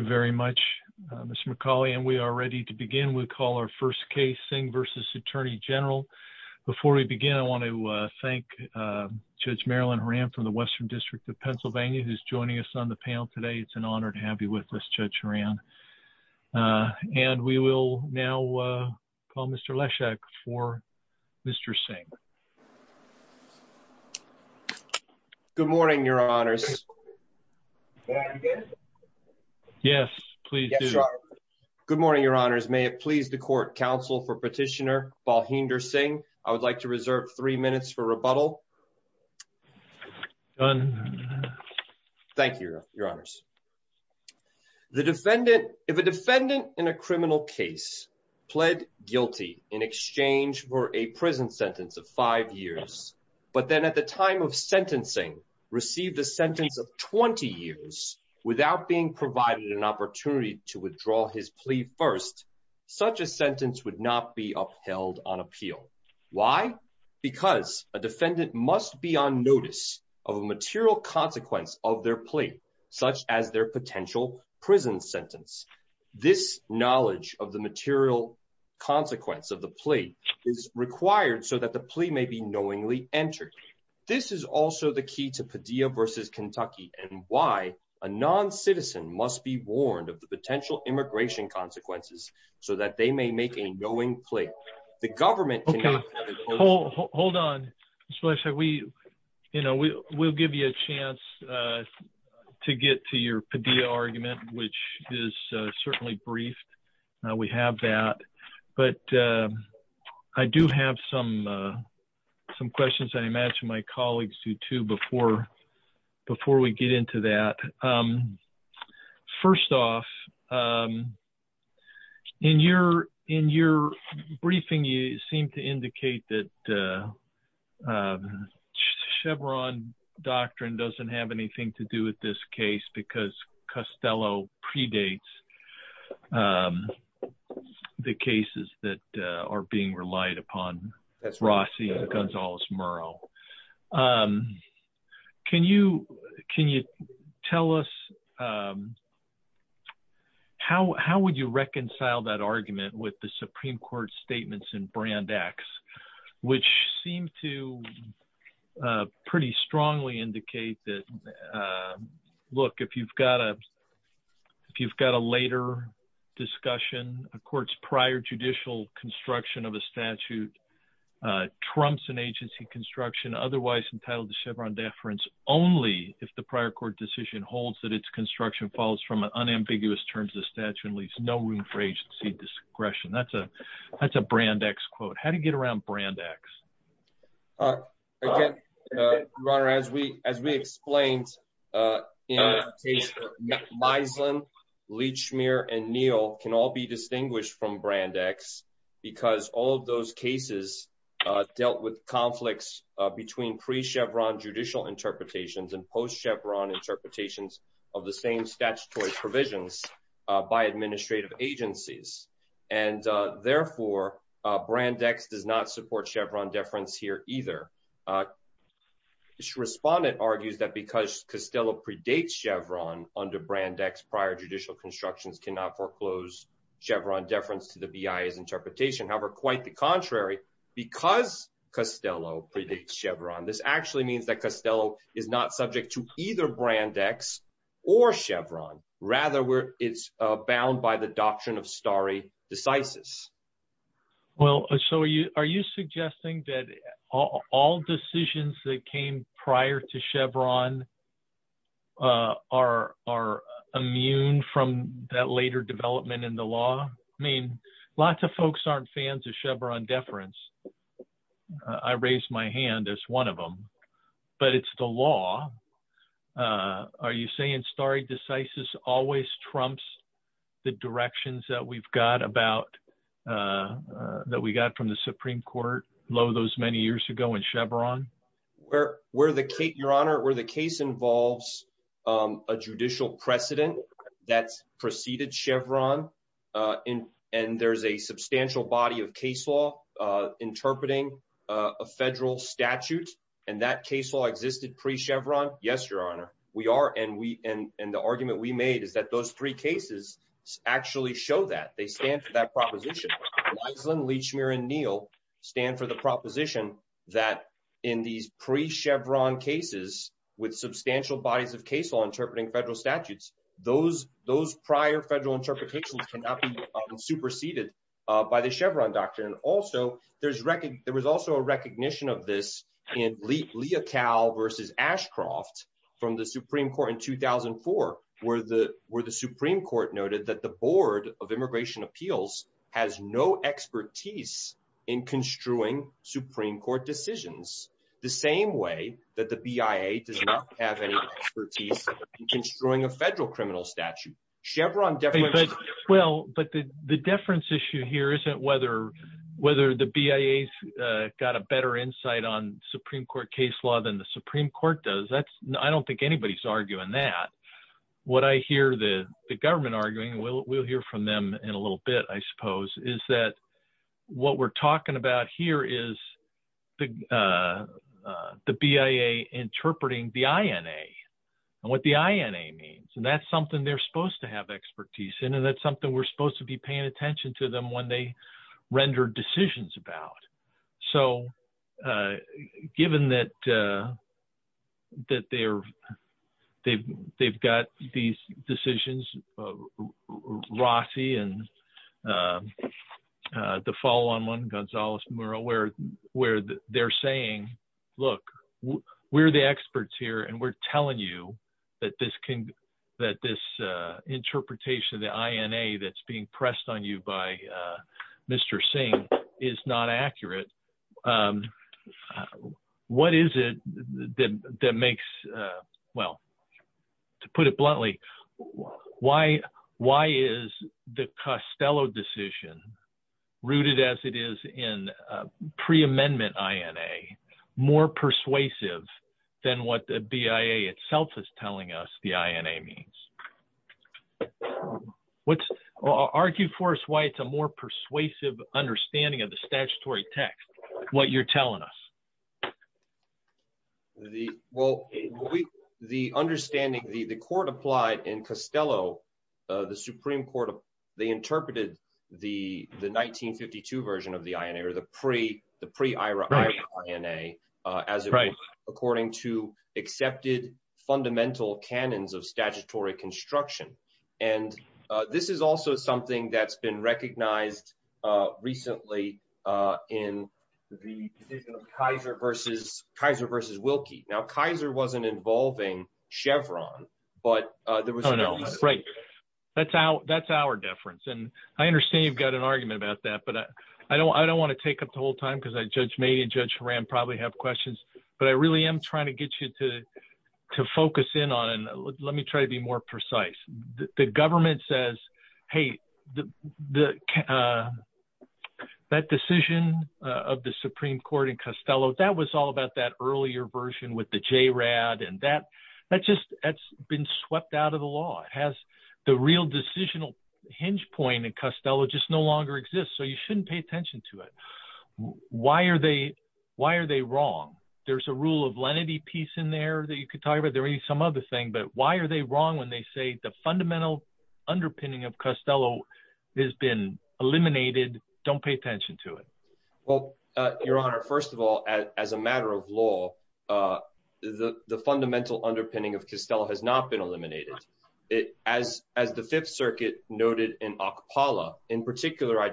very much, Mr Macaulay. And we are ready to begin. We call our first case thing versus Attorney General. Before we begin, I want to thank Judge Marilyn Horan from the Western District of Pennsylvania, who's joining us on the panel today. It's an honor to have you with us, Judge Horan. Uh, and we will now, uh, call Mr Leshek for Mr Singh. Good morning, Your Honors. Yes, please. Good morning, Your Honors. May it please the court counsel for petitioner, Balhinder Singh. I would like to reserve three minutes for rebuttal. Thank you, Your Honors. The defendant, if a defendant in a criminal case pled guilty in exchange for a prison sentence of five years, but then at the time of sentencing received a sentence of 20 years without being provided an opportunity to withdraw his plea. First, such a sentence would not be upheld on appeal. Why? Because a defendant must be on notice of material consequence of their plea, such as their potential prison sentence. This knowledge of the material consequence of the plea is that the plea may be knowingly entered. This is also the key to Padilla versus Kentucky and why a non citizen must be warned of the potential immigration consequences so that they may make a knowing place. The government. Hold on, especially we, you know, we'll give you a chance, uh, to get to your Padilla some questions. I imagine my colleagues do, too. Before before we get into that, um, first off, um, in your in your briefing, you seem to indicate that, uh, um, Chevron doctrine doesn't have anything to do with this case because Costello predates, um, the cases that are being relied upon. That's Rossi Gonzalez. Murrow. Um, can you can you tell us, um, how? How would you reconcile that argument with the Supreme Court statements in Brand X, which seemed to, uh, pretty strongly indicate that, uh, look, if you've got, uh, if you've got a later discussion, of course, prior judicial construction of a statute trumps an agency construction otherwise entitled Chevron deference only if the prior court decision holds that its construction falls from unambiguous terms. The statute leaves no room for agency discretion. That's a That's a Brand X quote. How do you get around Brand X? Uh, runner, as we as we explained, uh, you know, my son Leach mirror and Neil can all be distinguished from Brand X because all of those cases dealt with conflicts between pre Chevron judicial interpretations and post Chevron interpretations of the same statutory provisions by administrative agencies. And, uh, therefore, Brand X does not support Chevron deference here either. Uh, respondent argues that because Costello predates Chevron under Brand X prior judicial constructions cannot foreclose Chevron deference to the B. I. S. Interpretation. However, quite the contrary, because Costello predates Chevron, this actually means that Costello is not subject to either Brand X or Chevron. Rather, where it's bound by the doctrine of starry decisive. Well, so are you suggesting that all decisions that came prior to Chevron, uh, are are immune from that later development in the law? I mean, lots of folks aren't fans of Chevron deference. I raised my hand as one of them, but it's the law. Uh, are you saying starry decisive always trumps the directions that we've got about, uh, that we got from the Supreme Court? Low those many years ago in Chevron where we're the Kate, Your Honor, where the case involves, um, a judicial precedent that preceded Chevron. Uh, and there's a substantial body of case law interpreting a federal statute, and that case law existed pre Chevron. Yes, Your Honor, we are. And we and and the argument we made is that those three cases actually show that they stand for that proposition. Unleash mirror and Neil stand for the proposition that in these pre Chevron cases with substantial bodies of case law interpreting federal statutes, those those prior federal interpretations cannot be superseded by the Chevron doctrine. Also, there's wrecking. There was also a recognition of this in Lietel versus Ashcroft from the Supreme Court in 2004, where the where the Supreme Court noted that the Board of Immigration Appeals has no expertise in construing Supreme Court decisions the same way that the B I A does not have any expertise in destroying a federal criminal statute Chevron. Well, but the deference issue here isn't whether whether the B I A's got a better insight on Supreme Court case law than the Supreme Court does. That's I don't think anybody's arguing that what I hear the government arguing we'll hear from them in a little bit, I suppose, is that what we're talking about here is the, uh, the B I A interpreting the I N A what the I N A means, and that's something they're supposed to have expertise in, and that's something we're supposed to be paying attention to them when they rendered decisions about. So, uh, given that, uh, that they're they've they've got these decisions, Rossi and, uh, the follow on one Gonzalez Muro, where where they're saying, Look, we're the experts here, and we're telling you that this king that this interpretation of the I N A that's being pressed on you by, uh, Mr Singh is not accurate. Um, what is it that makes? Uh, well, to put it bluntly, why? Why is the Costello decision rooted as it is in pre amendment? I N A more persuasive than what the B I A itself is telling us the I N A means. What's argue for us? Why? It's a more persuasive understanding of the statutory text. What you're telling us the well, the understanding the court applied in Costello, the Supreme Court. They interpreted the 1952 version of the I N A or the pre the pre Ira I N A as right, according to accepted fundamental canons of statutory construction. And this is also something that's been recognized recently in the Kaiser versus Kaiser versus Wilkie. Now, Kaiser wasn't involving Chevron, but there was no right. That's how that's our difference. And I understand you've got an argument about that, but I don't I don't want to take up the whole time because I judge me and Judge Rand probably have questions, but I really am trying to get you to to focus in on. And let me try to be more precise. The government says, Hey, the that decision of the Supreme Court in Costello that was all about that earlier version with the J. Rad and that that just that's been swept out of the law has the real decisional hinge point in Costello just no longer exists. So you shouldn't pay attention to it. Why are they? Why are they wrong? There's a rule of lenity piece in there that you could talk about. There is some other thing. But why are they wrong when they say the fundamental underpinning of Costello has been eliminated? Don't pay attention to it. Well, Your Honor, first of all, as a matter of law, uh, the fundamental underpinning of Castile has not been eliminated it as as the Fifth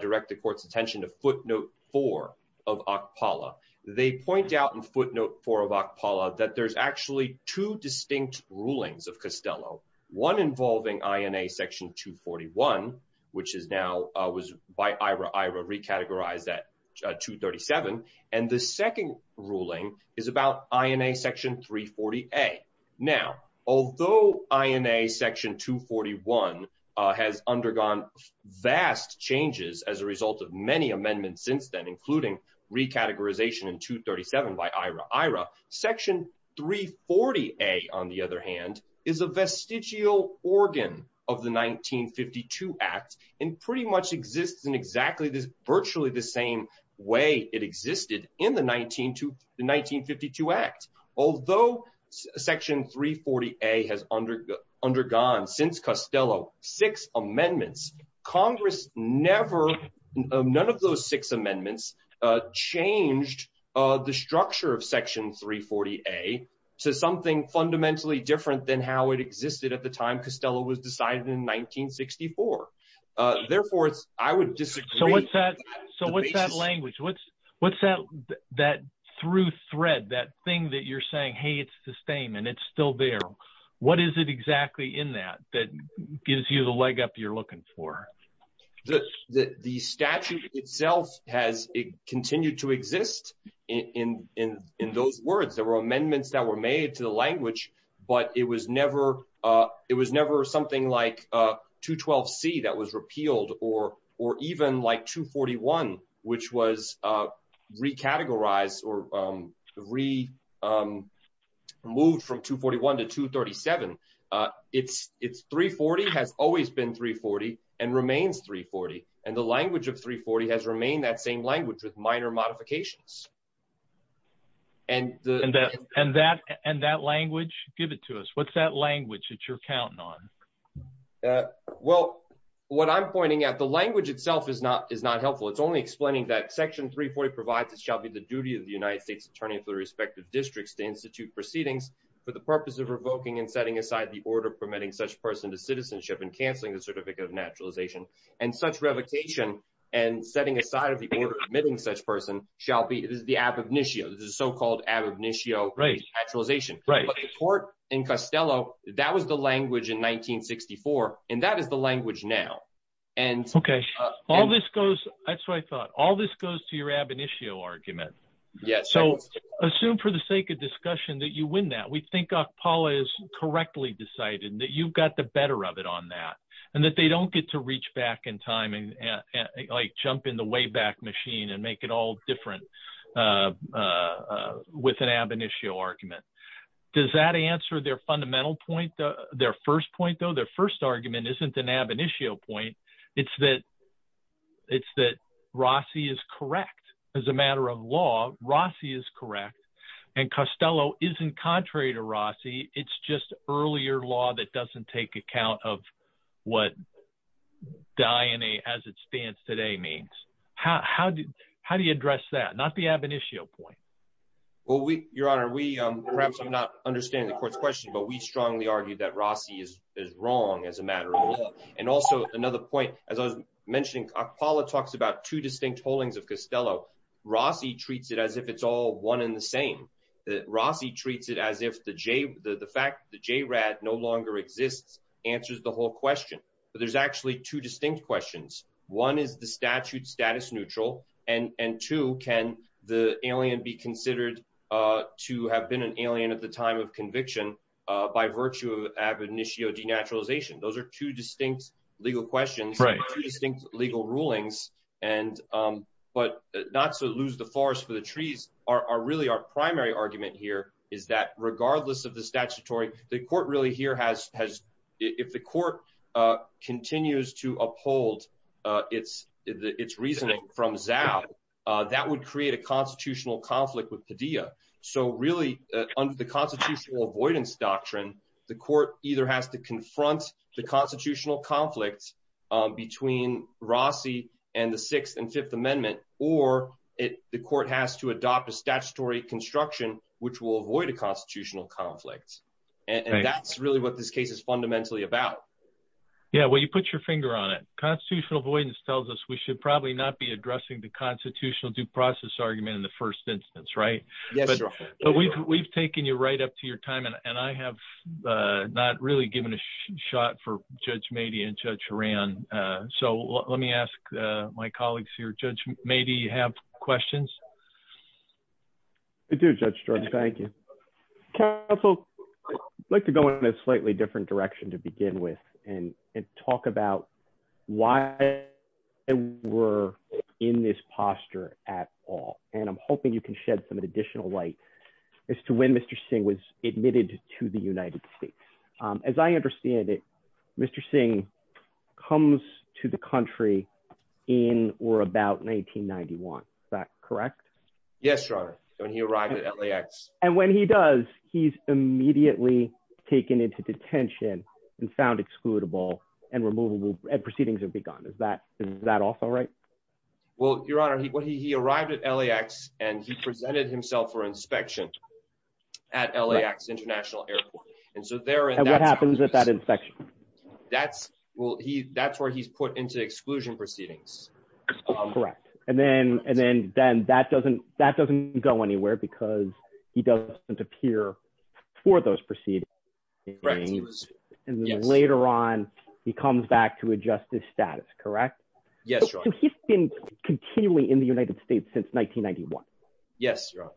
Direct the court's attention to footnote four of Aqpala. They point out in footnote four of Aqpala that there's actually two distinct rulings of Costello, one involving I. N. A. Section 2 41, which is now was by Ira Ira recategorized at 2 37. And the second ruling is about I. N. A. Section 3 40 A. Now, although I. N. A. Section 2 41 has undergone vast changes as a result of many amendments since then, including recategorization in 2 37 by Ira Ira Section 3 40 A, on the other hand, is a vestigial organ of the 1952 Act and pretty much exist in exactly this virtually the same way it existed in the 19 to 1952 acts. Although Section 3 40 A has under undergone since Costello six amendments, Congress never none of those six amendments changed the structure of Section 3 40 A to something fundamentally different than how it existed at the time. Costello was decided in 1964. Therefore, I would so what's that? So what's that language? What's what's that? That through thread that thing that you're saying? Hey, it's the same and it's still there. What is it exactly in that that gives you the leg up? You're looking for this. The statute itself has continued to exist in in in those words. There were amendments that were made to the language, but it was never. It was never something like 2 12 C that was repealed or or even like 2 41, which was, uh, recategorized or, um, re, um, moved from 2 41 to 2 37. Uh, it's it's 3 40 has always been 3 40 and remains 3 40. And the language of 3 40 has remained that same language with minor modifications. And and that and that language give it to us. What's that language? It's your talent on. Uh, well, when I'm pointing out the language itself is not is not helpful. It's only explaining that Section 3 40 provides it shall be the duty of the United States attorney of the respective districts to institute proceedings for the purpose of revoking and setting aside the order permitting such person to citizenship and canceling the certificate of naturalization and such revocation and setting aside of the order admitting such person shall be the ab initio, the so called ab initio race actualization court in Costello. That was the language in 1964, and that is the language now. And okay, all this goes. That's what I thought. All this goes to your ab initio argument. Yeah, so assume for the sake of discussion that you win that we think of Paula is correctly decided that you've got the better of it on that and that they don't get to reach back in time and like jump in the way back machine and make it all different. Uh, with an ab initio argument, does that answer their fundamental point? Their first point, though their first argument isn't an ab initio point. It's that it's that Rossi is correct. As a matter of law, Rossi is correct, and Costello isn't contrary to Rossi. It's just earlier law that doesn't take account of what Diana as it stands today means. How do you address that? Not the ab initio point. Well, we, Your Honor, we perhaps not understand the court question, but we strongly argue that Rossi is wrong as a matter of law and also another point. As I mentioned, Paula talks about two distinct holdings of Costello. Rossi treats it as if it's all one in the same. Rossi treats it as if the J. The fact the J. Rad no longer exists answers the whole question. But there's actually two distinct questions. One is the statute status neutral, and two can the alien be considered to have been an of conviction by virtue of ab initio denaturalization. Those air two distinct legal questions, right? You think legal rulings and but not to lose the forest for the trees are really our primary argument here is that regardless of the statutory, the court really here has has if the court continues to uphold its its reasoning from Zao, that would create a constitutional avoidance doctrine. The court either has to confront the constitutional conflicts between Rossi and the sixth and Fifth Amendment, or the court has to adopt a statutory construction which will avoid a constitutional conflict. And that's really what this case is fundamentally about. Yeah, well, you put your finger on it. Constitutional avoidance tells us we should probably not be addressing the constitutional due process argument in the first instance, right? But we've we've taken you right up to your time, and I have not really given a shot for Judge May be in judge ran. So let me ask my colleagues here. Judge, maybe you have questions. It did. Judge George. Thank you. Castle like to go in a slightly different direction to begin with and talk about why were in this posture at all. And I'm hoping you can shed some additional light as to when Mr Singh was admitted to the United States. As I understand it, Mr Singh comes to the country in or about 1991. Is that correct? Yes, right. When he arrived at L. A. X. And when he does, he's immediately taken into detention and found excludable and removable and proceedings have begun. Is that is that also right? Well, Your Honor, he arrived at L. A. X. And he presented himself for inspection at L. A. X. International Airport. And so there happens with that infection. That's well, that's where he's put into exclusion proceedings. Correct. And then and then that doesn't that doesn't go anywhere because he doesn't appear for those proceedings. And later on, he he's been continually in the United States since 1991. Yes, Your Honor.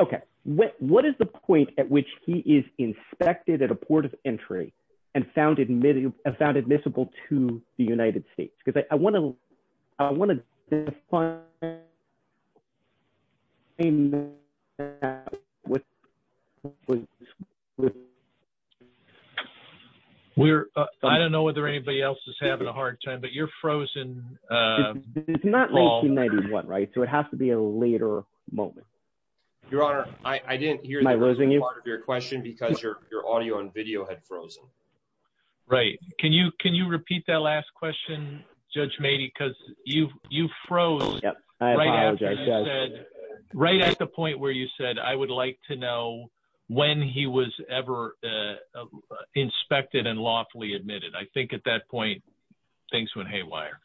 Okay, what is the point at which he is inspected at a port of entry and found admitted about admissible to the United States? Because I want to I want to find a man with with we're I don't know whether anybody else is having a hard time, but you're frozen. Uh, it's not making 91, right? So it has to be a later moment. Your honor, I didn't hear my losing your question because you're all you on video had frozen. Right. Can you can you repeat that last question? Judge maybe because you you froze right at the point where you said, I would like to know when he was ever inspected and lawfully admitted. I think at that point, things went haywire.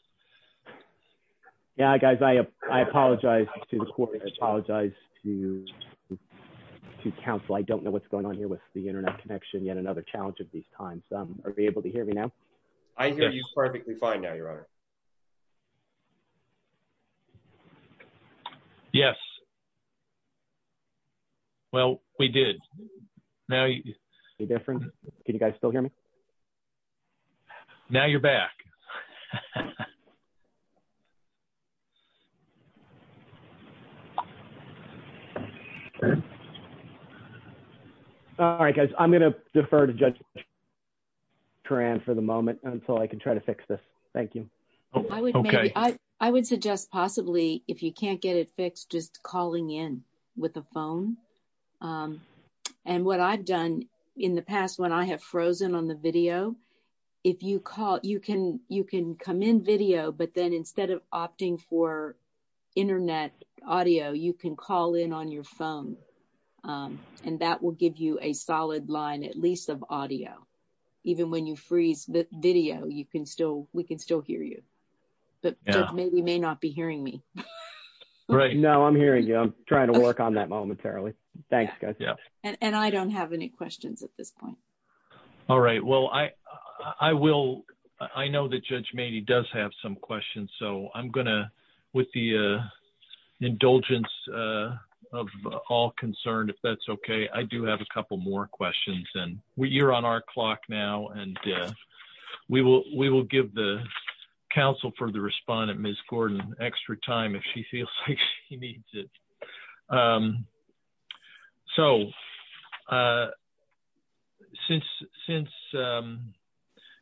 Yeah, guys, I I apologize to the court. I apologize to to counsel. I don't know what's going on here with the Internet connection. Yet another challenge of these times. Are we able to hear me now? I hear you perfectly fine. Now, your honor. Yes. Well, we did. Now you different. Can you guys still hear me? Now you're back. All right, guys, I'm gonna defer to judge Tran for the moment until I can try to fix this. Thank you. Okay, I would suggest possibly if you can't get it fixed, just calling in with the phone. Um, and what I've done in the past, when I have frozen on the video, if you call, you can you can come in video. But then instead of opting for Internet audio, you can call in on your phone. Um, and that will give you a little bit more flexibility. So even when you freeze this video, you can still we can still hear you. But maybe you may not be hearing me right now. I'm hearing you. I'm trying to work on that momentarily. Thanks. And I don't have any questions at this point. All right. Well, I I will. I know that Judge Maney does have some questions, so I'm gonna with the indulgence of all concerned if that's okay. I do have a couple more questions, and we're on our clock now, and we will. We will give the council for the respondent Miss Gordon extra time if she feels like she needs it. Um, so, uh, since since, um,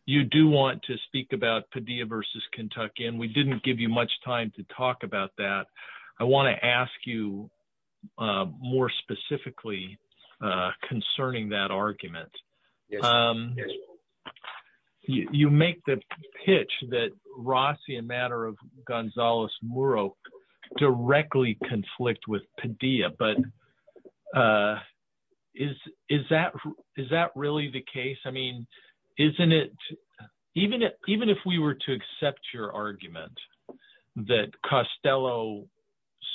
you do want to speak about Padilla versus Kentucky, and we didn't give you much time to talk about that. I would like to ask you a question concerning that argument. Um, you make the pitch that Rossi a matter of Gonzalez Muro directly conflict with Padilla. But, uh, is is that? Is that really the case? I mean, isn't it even it even if we were to accept your argument that Costello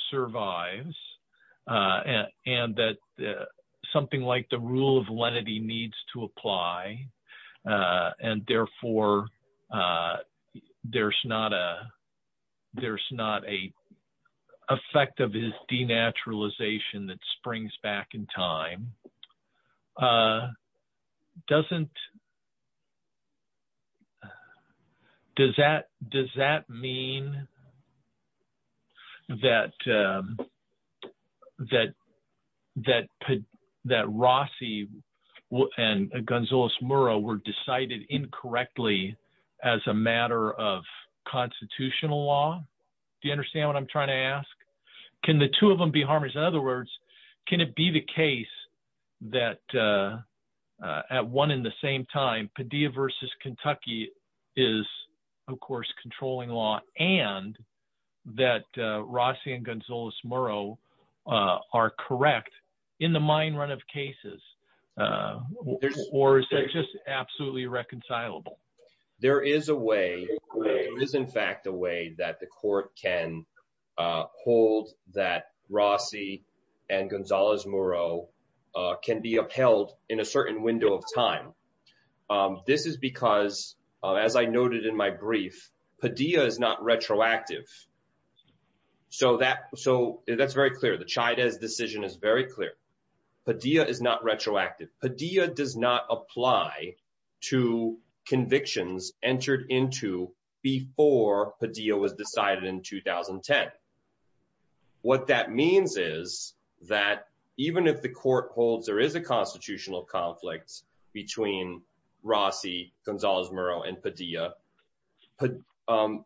survives? Uh, and that something like the rule of lenity needs to apply, uh, and therefore, uh, there's not a there's not a effect of his D naturalization that springs back in time. Uh, doesn't does that does that mean that that that that Rossi and Gonzalez Muro were decided incorrectly as a matter of constitutional law? Do you understand what I'm trying to ask? Can the two of them be harmers? In other words, can one in the same time Padilla versus Kentucky is, of course, controlling law and that Rossi and Gonzalez Muro are correct in the mind run of cases? Uh, or is that just absolutely reconcilable? There is a way is, in fact, a way that the court can hold that Rossi and Gonzalez Muro can be upheld in a time. This is because, as I noted in my brief, Padilla is not retroactive. So that so that's very clear. The China decision is very clear. Padilla is not retroactive. Padilla does not apply to convictions entered into before Padilla was decided in 2010. What that means is that even if the court holds there is a constitutional conflict between Rossi, Gonzalez Muro and Padilla, um,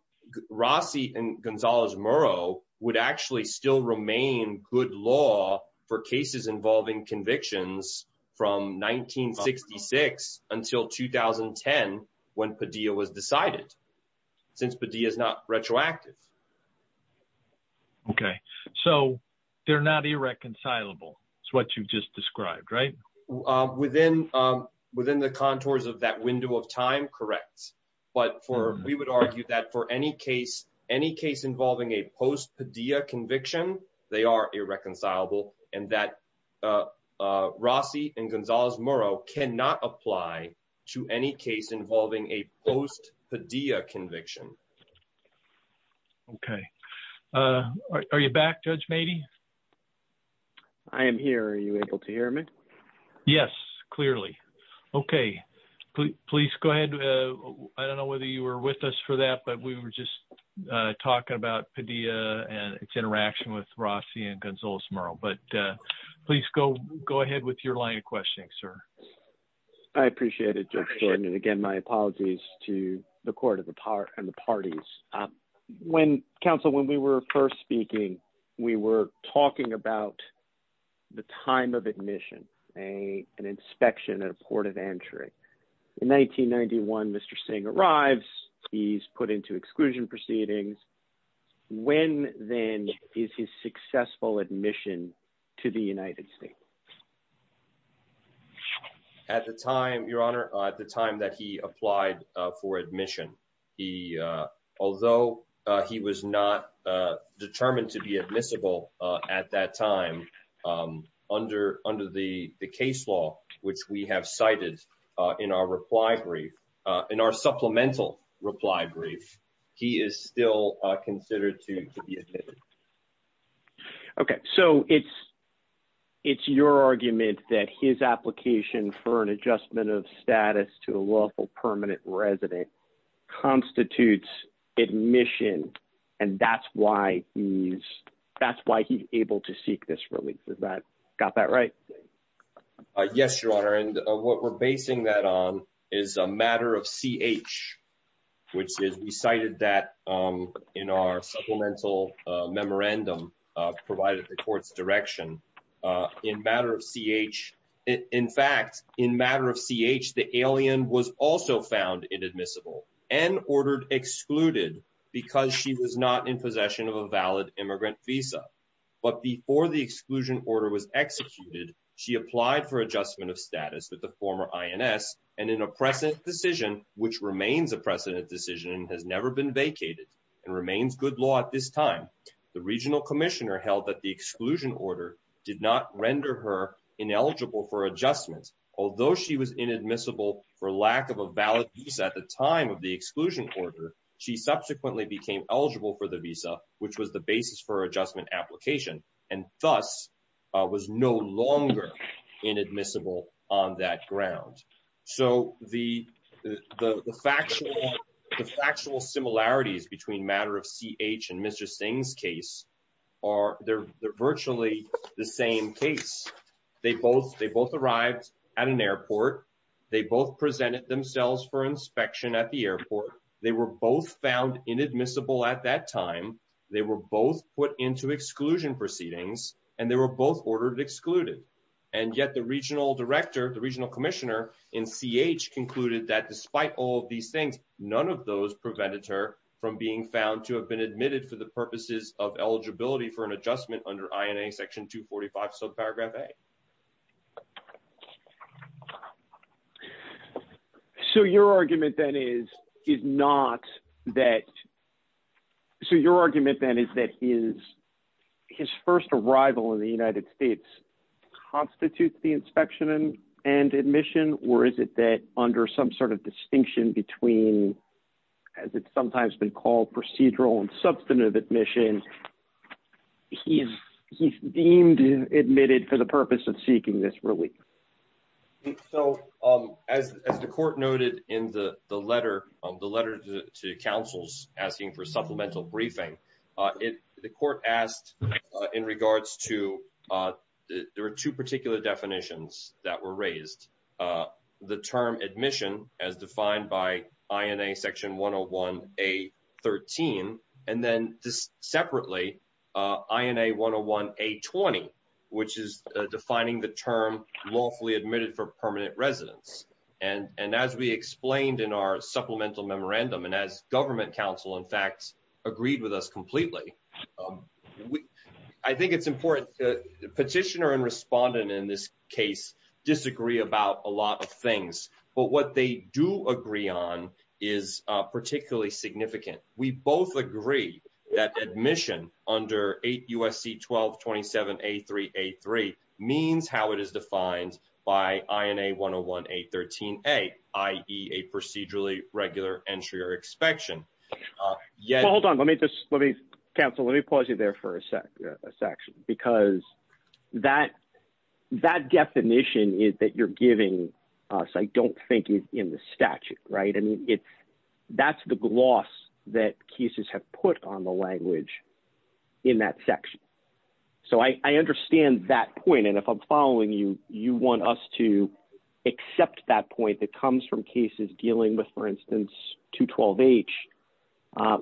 Rossi and Gonzalez Muro would actually still remain good law for cases involving convictions from 1966 until 2010 when Padilla was decided since Padilla is not retroactive. Okay, so they're not irreconcilable. It's what you just described, right? Within, um, within the contours of that window of time, correct. But for we would argue that for any case, any case involving a post Padilla conviction, they are irreconcilable and that Rossi and Gonzalez Muro cannot apply to any case involving a post Padilla conviction. Okay. Uh, are you back? Judge? Maybe I am here. Are you able to hear me? Yes, clearly. Okay, please go ahead. I don't know whether you were with us for that, but we were just talking about Padilla and its interaction with Rossi and Gonzalez Muro. But please go go ahead with your line of questioning, sir. I appreciate it. And again, my apologies to the court of the part and the parties. Um, when Council, when we were first speaking, we were talking about the time of admission, a an inspection at a port of entry in 1991. Mr Singh arrives, he's put into exclusion proceedings. When then is his successful admission to the United States? At the time, Your Honor, at the time that he applied for admission, he uh although he was not determined to be admissible at that time, um under under the case law, which we have cited in our reply brief in our supplemental reply brief, he is still considered to be admitted. Okay, so it's it's your argument that his application for an adjustment of status to a lawful permanent resident constitutes admission. And that's why he's that's why he's able to seek this release. Is that got that right? Yes, Your Honor. And what we're basing that on is a matter of C. H. Which is we mental memorandum provided reports direction in matter of C. H. In fact, in matter of C. H. The alien was also found inadmissible and ordered excluded because she was not in possession of a valid immigrant visa. But before the exclusion order was executed, she applied for adjustment of status with the former I. N. S. And in a precedent decision, which remains a precedent decision has never been vacated and remains good law. At this time, the regional commissioner held that the exclusion order did not render her ineligible for adjustments. Although she was inadmissible for lack of a valid piece at the time of the exclusion order, she subsequently became eligible for the visa, which was the basis for adjustment application and thus was no longer inadmissible on that ground. So the factual similarities between matter of C. H. And Mr. Singh's case are they're virtually the same case. They both they both arrived at an airport. They both presented themselves for inspection at the airport. They were both found inadmissible at that time. They were both put into exclusion proceedings, and they were both ordered excluded. And yet the regional director, the regional commissioner in C. H. Concluded that despite all these things, none of those prevented her from being found to have been admitted to the purposes of eligibility for an adjustment under I. N. A. Section 2 45. So paragraph A. So your argument that is is not that. So your argument that is that he is his first arrival in the United States constitutes the inspection and and admission, or is it that under some sort of distinction between as it's sometimes been called procedural and substantive admissions, he's he's deemed admitted for the purpose of seeking this relief. So as the court noted in the letter of the letter to counsel's asking for supplemental briefing, the court asked in regards to there are two particular definitions that were raised. The term admission as defined by I. N. A. Section 101 A 13 and then this separately I. N. A. 101 A 20, which is defining the term lawfully admitted for permanent residence. And as we explained in our supplemental memorandum and as government counsel, in fact, agreed with us completely, I think it's important that petitioner and respondent in this case disagree about a lot of things, but what they do agree on is particularly significant. We both agree that admission under 8 USC 1227 A3 A3 means how it is inspection. Yeah, hold on. Let me just let me cancel. Let me pause you there for a sec. A section because that that definition is that you're giving us. I don't think he's in the statute, right? And it's that's the gloss that cases have put on the language in that section. So I understand that point. And if I'm following you, you want us to accept that point that comes from cases dealing with, for instance, to 12 H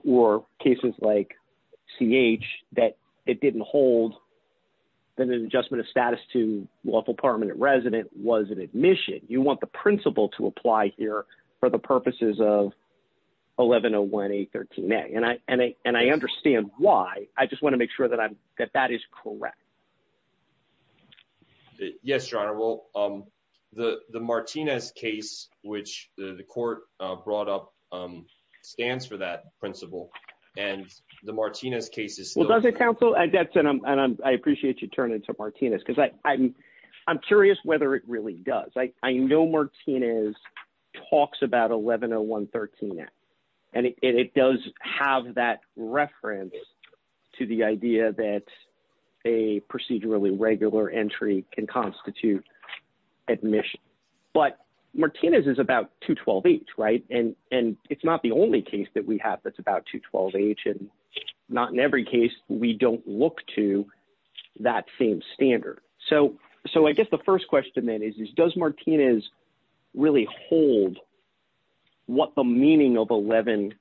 or cases like C. H. That it didn't hold than an adjustment of status to lawful permanent resident was an admission. You want the principle to apply here for the purposes of 11 018 13 A. And I and I and I understand why. I just want to make sure that I that that is correct. Yes, Your Honor. Well, um, the Martinez case, which the court brought up stands for that principle and the Martinez cases. Well, doesn't counsel and that's and I appreciate you turn into Martinez because I'm I'm curious whether it really does. I know Martinez talks about 11 or 113. And it does have that reference to the idea that a procedurally regular entry can constitute admission. But Martinez is about to 12 H, right? And and it's not the only case that we have. That's about to 12 H. And not in every case, we don't look to that same standard. So So I guess the first question that is does Martinez really hold what the meaning of 11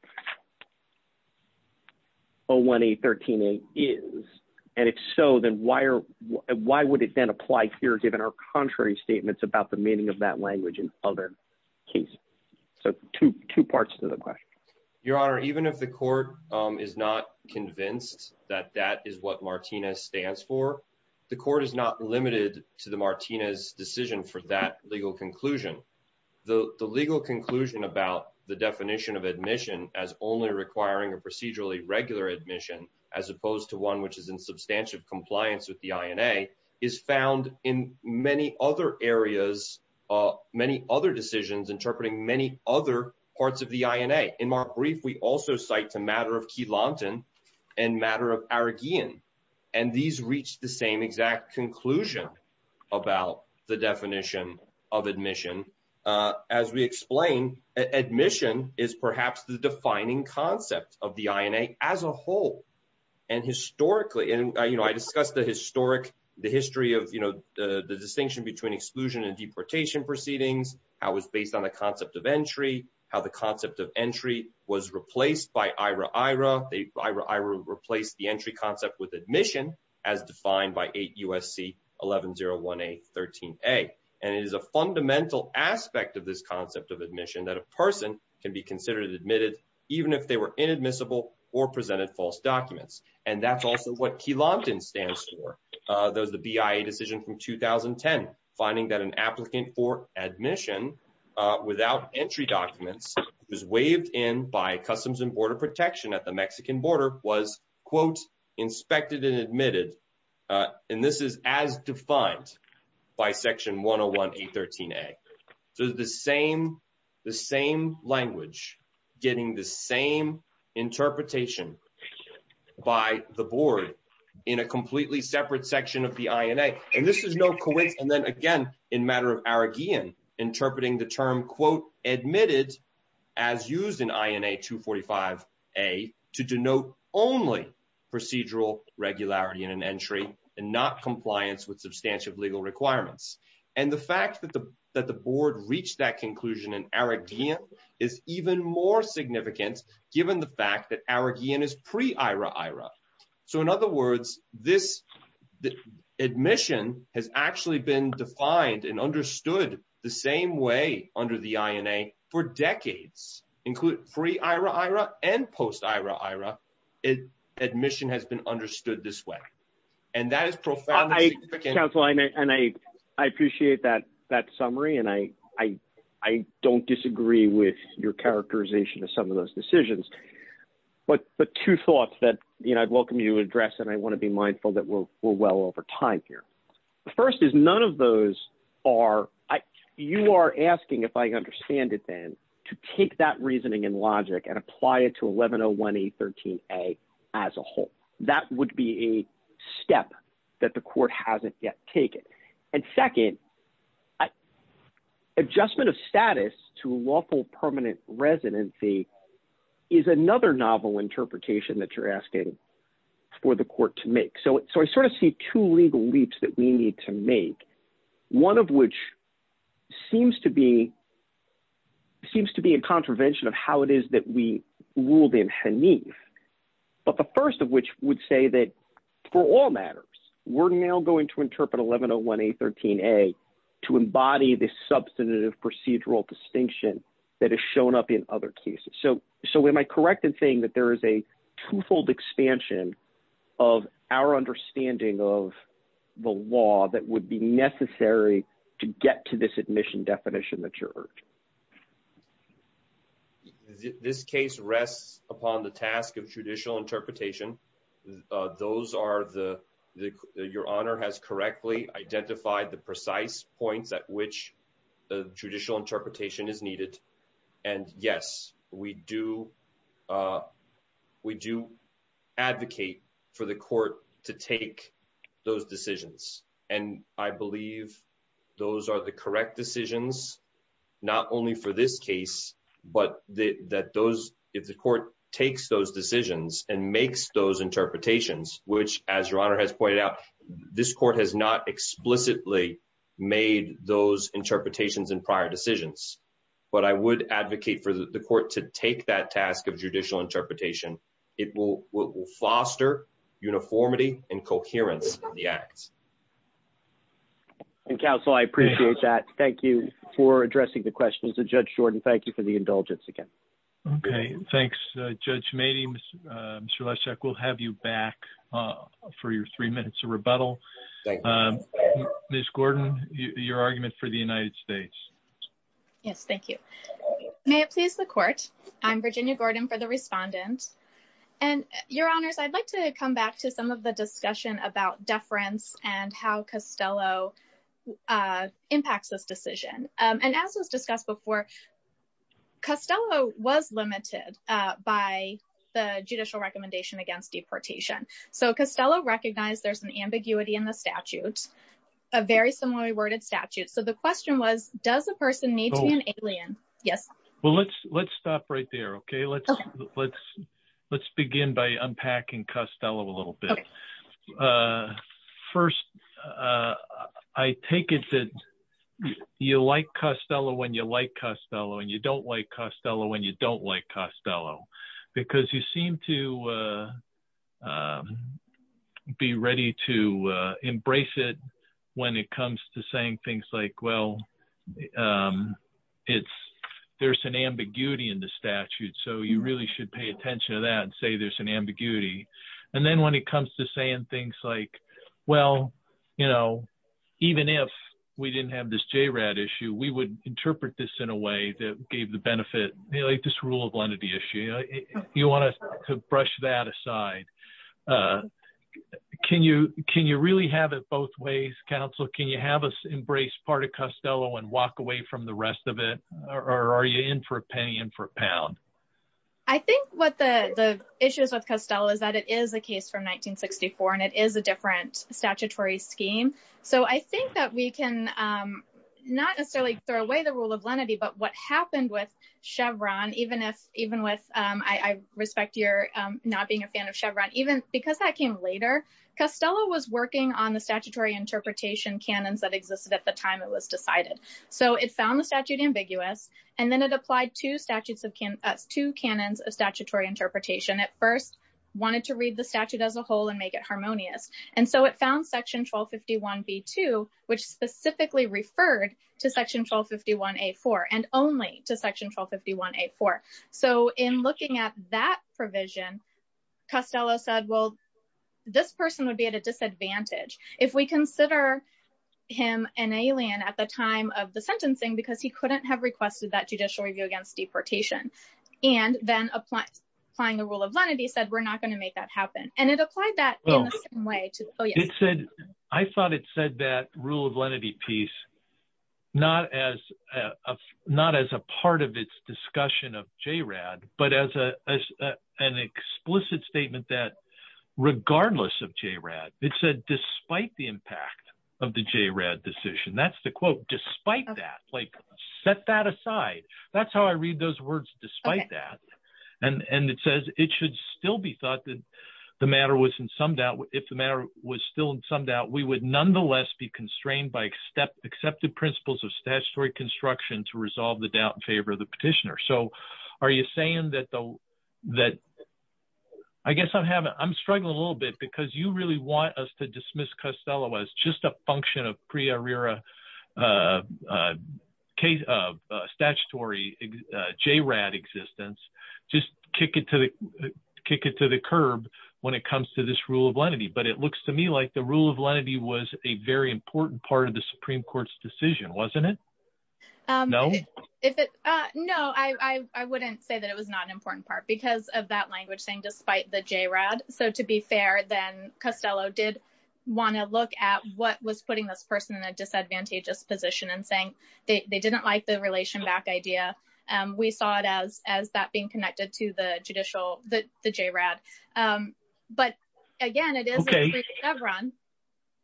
018 13 A is? And if so, then why are why would it then apply here? Given our contrary statements about the meaning of that language and other case. So 22 parts to the question, Your Honor, even if the court is not convinced that that is what Martinez stands for, the court is not limited to the Martinez decision for that legal conclusion. The legal conclusion about the definition of admission as only requiring a procedurally regular admission, as opposed to one which is in substantive compliance with the I. N. A. Is found in many other areas. Many other decisions interpreting many other parts of the I. N. A. In more briefly, also cite the matter of and matter of arrogant. And these reach the same exact conclusion about the definition of admission. As we explained, admission is perhaps the defining concept of the I. N. A. As a whole. And historically, and, you know, I discussed the historic the history of, you know, the distinction between exclusion and deportation proceedings. I was based on the concept of entry, how the concept of entry was replaced by Ira. Ira. Ira. Ira replaced the entry concept with admission as defined by eight U. S. C. 11 0 1 A. 13 A. And it is a fundamental aspect of this concept of admission that a person can be considered admitted even if they were inadmissible or presented false documents. And that's also what he loved and stands for. There's the B. I. A. Decision from 2010 finding that an applicant for admission without entry documents is waived in by Customs and Border Protection at the Mexican border was, quote, inspected and admitted. Uh, and this is as defined by Section 1 0 1 A. 13 A. Does the same the same language getting the same interpretation by the board in a completely separate section of the I. N. A. And this is no quick. And then again, in matter of Arabian interpreting the term, quote, admitted as used in I. N. A. 2 45 a to denote only procedural regularity in an entry and not compliance with substantive legal requirements. And the fact that the that the board reached that conclusion in Arabian is even more significant, given the fact that Arabian is pre Ira. Ira. So in other words, this admission has actually been defined and understood the same way under the I. N. A. For decades, include free Ira. Ira and post Ira. Ira is admission has been understood this way, and that is profound. I can't find it, and I appreciate that that summary, and I don't disagree with your characterization of some of those decisions. But the two thoughts that I'd welcome you address, and I want to be mindful that we're well over time here. The first is none of those are you are asking if I understand it, then to take that reasoning and logic and apply it to 11 0 1 A. 13 A. As a whole, that would be a step that the court hasn't yet taken. And second, I adjustment of status to lawful permanent residency is another novel interpretation that you're asking for the court to make. So so I sort of see two legal leaps that we need to make, one of which seems to be seems to be a contravention of how it is that we ruled in Haneen. But the first of which would say that for all matters, we're now going to to embody this substantive procedural distinction that has shown up in other cases. So So am I correct in saying that there is a twofold expansion of our understanding of the law that would be necessary to get to this admission definition? The church this case rests upon the task of traditional interpretation. Those are the your honor has correctly identified the precise point that which the judicial interpretation is needed. And yes, we do. Uh, would you advocate for the court to take those decisions? And I believe those are the correct decisions not only for this case, but that those if the your honor has pointed out, this court has not explicitly made those interpretations in prior decisions. But I would advocate for the court to take that task of judicial interpretation. It will foster uniformity and coherence of the act. And counsel, I appreciate that. Thank you for addressing the questions of Judge Jordan. Thank you for the indulgence again. Okay, thanks, Judge. Maybe Mr Leszek will have you back for your three minutes of rebuttal. Um, Miss Gordon, your argument for the United States. Yes, thank you. May it please the court. I'm Virginia Gordon for the respondent and your honors. I'd like to come back to some of the discussion about deference and how Costello, uh, impacts this decision. Um, and as was by the judicial recommendation against deportation. So Costello recognized there's an ambiguity in the statute, a very similarly worded statute. So the question was, does the person need an alien? Yes. Well, let's let's stop right there. Okay, let's let's let's begin by unpacking Costello a little bit. Uh, first, uh, I take it that you like Costello when you like Costello and you don't like Costello when you don't like Costello because you seem to, uh, um, be ready to embrace it when it comes to saying things like, well, um, it's there's an ambiguity in the statute. So you really should pay attention to that and say there's an ambiguity. And then when it comes to saying things like, well, you know, even if we didn't have this J rat issue, we would interpret this in a way that gave the benefit, this rule of lenity issue. You want us to brush that aside? Uh, can you, can you really have it both ways? Counselor, can you have us embrace part of Costello and walk away from the rest of it? Or are you in for a penny and for a pound? I think what the issues of Costello is that it is a case from 1964 and it is a different statutory scheme. So I think that we can, um, not necessarily throw away the rule of lenity, but we can talk about it in a different way. And I think that's what happened with Chevron, even if, even with, um, I respect your, um, not being a fan of Chevron, even because that came later, Costello was working on the statutory interpretation canons that existed at the time it was decided. So it found the statute ambiguous and then it applied two statutes of two canons of statutory interpretation at first, wanted to read the statute as a whole and make it harmonious. And so it found section 1251 B2, which specifically referred to section 1251 A4 and only to section 1251 A4. So in looking at that provision, Costello said, well, this person would be at a disadvantage if we consider him an alien at the time of the sentencing, because he couldn't have requested that judicial review against deportation. And then applying the rule of lenity said, we're not going to make that happen. And it applied that way. I thought it said that rule of lenity piece, not as, uh, not as a part of its discussion of JRAD, but as a, as a, an explicit statement that regardless of JRAD, it said, despite the impact of the JRAD decision, that's the quote, despite that, like set that aside. That's how I read those words despite that. And, and it says it should still be thought that the matter was in some doubt, if the matter was still in some doubt, we would nonetheless be constrained by step accepted principles of statutory construction to resolve the doubt in favor of the petitioner. So are you saying that the, that I guess I'm having, I'm struggling a little bit because you really want us to dismiss Costello as just a function of JRAD existence, just kick it to the, kick it to the curb when it comes to this rule of lenity. But it looks to me like the rule of lenity was a very important part of the Supreme court's decision. Wasn't it? No, I, I, I wouldn't say that it was not an important part because of that language thing, despite the JRAD. So to be fair, then Costello did want to look at what was putting this person in a disadvantageous position and saying they didn't like the relation back idea. We thought as, as that being connected to the judicial, the, the JRAD. But again, it is. Okay.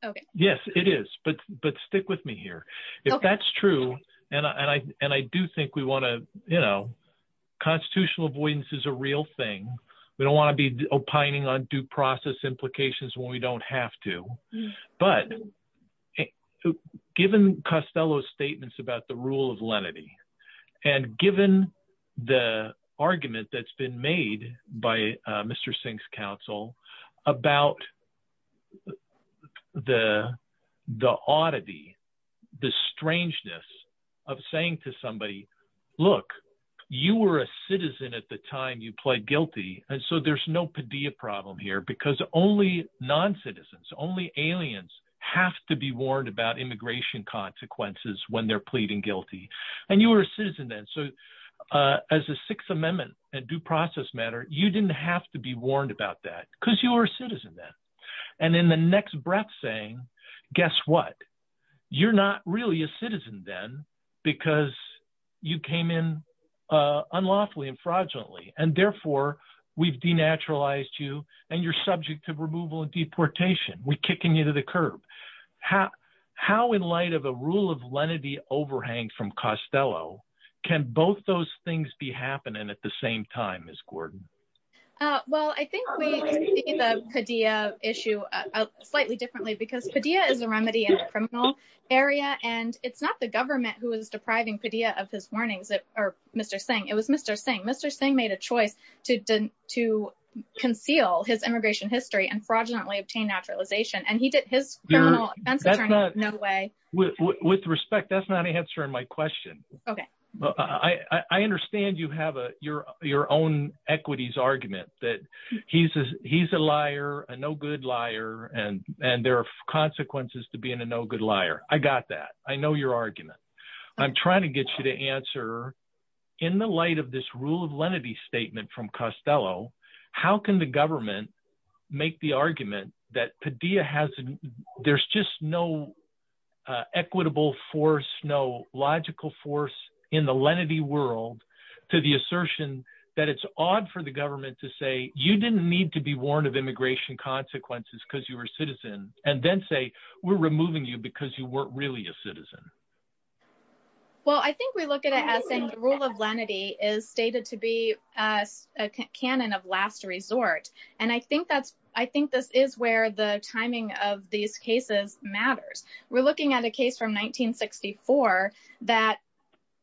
Okay. Yes, it is. But, but stick with me here. If that's true. And I, and I, and I do think we want to, you know, constitutional avoidance is a real thing. We don't want to be opining on due process implications when we don't have to, but given Costello's statements about the rule of lenity and given the argument that's been made by Mr. Singh's counsel about the, the oddity, the strangeness of saying to somebody, look, you were a citizen at the time you pled guilty. And so there's no Padilla problem here because only non-citizens, only aliens have to be warned about immigration consequences when they're pleading guilty. And you were a citizen then. So as a sixth amendment and due process matter, you didn't have to be warned about that because you were a citizen then. And in the next breath saying, guess what? You're not really a citizen then because you came in unlawfully and fraudulently. And therefore we've denaturalized you and you're subject to removal and deportation. We're kicking you to the curb. How, how in light of a rule of lenity overhang from Costello, can both those things be happening at the same time, Ms. Gordon? Well, I think we see the Padilla issue slightly differently because Padilla is a remedy in a criminal area and it's not the government who is depriving Padilla of his warnings or Mr. Singh. It was Mr. Singh. Mr. Singh made a mistake in his immigration history and fraudulently obtained denaturalization and he did his criminal offenses in no way... With respect, that's not answering my question. Okay. I understand you have your own equities argument that he's a liar, a no good liar, and there are consequences to being a no good liar. I got that. I know your argument. I'm trying to get you to answer in the light of this rule of lenity statement from Costello, how can the government make the argument that Padilla has... There's just no equitable force, no logical force in the lenity world to the assertion that it's odd for the government to say, you didn't need to be warned of immigration consequences because you were a citizen, and then say, we're removing you because you weren't really a citizen. Well, I think we look at it as saying the rule of canon of last resort, and I think this is where the timing of these cases matters. We're looking at a case from 1964 that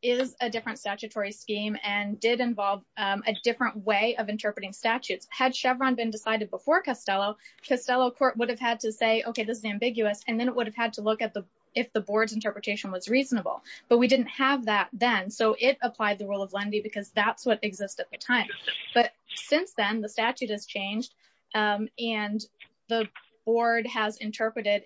is a different statutory scheme and did involve a different way of interpreting statutes. Had Chevron been decided before Costello, Costello Court would have had to say, okay, this is ambiguous, and then it would have had to look at if the board's interpretation was reasonable, but we didn't have that then, so it applied the rule of lenity because that's what exists at the time. But since then, the statute has changed and the board has interpreted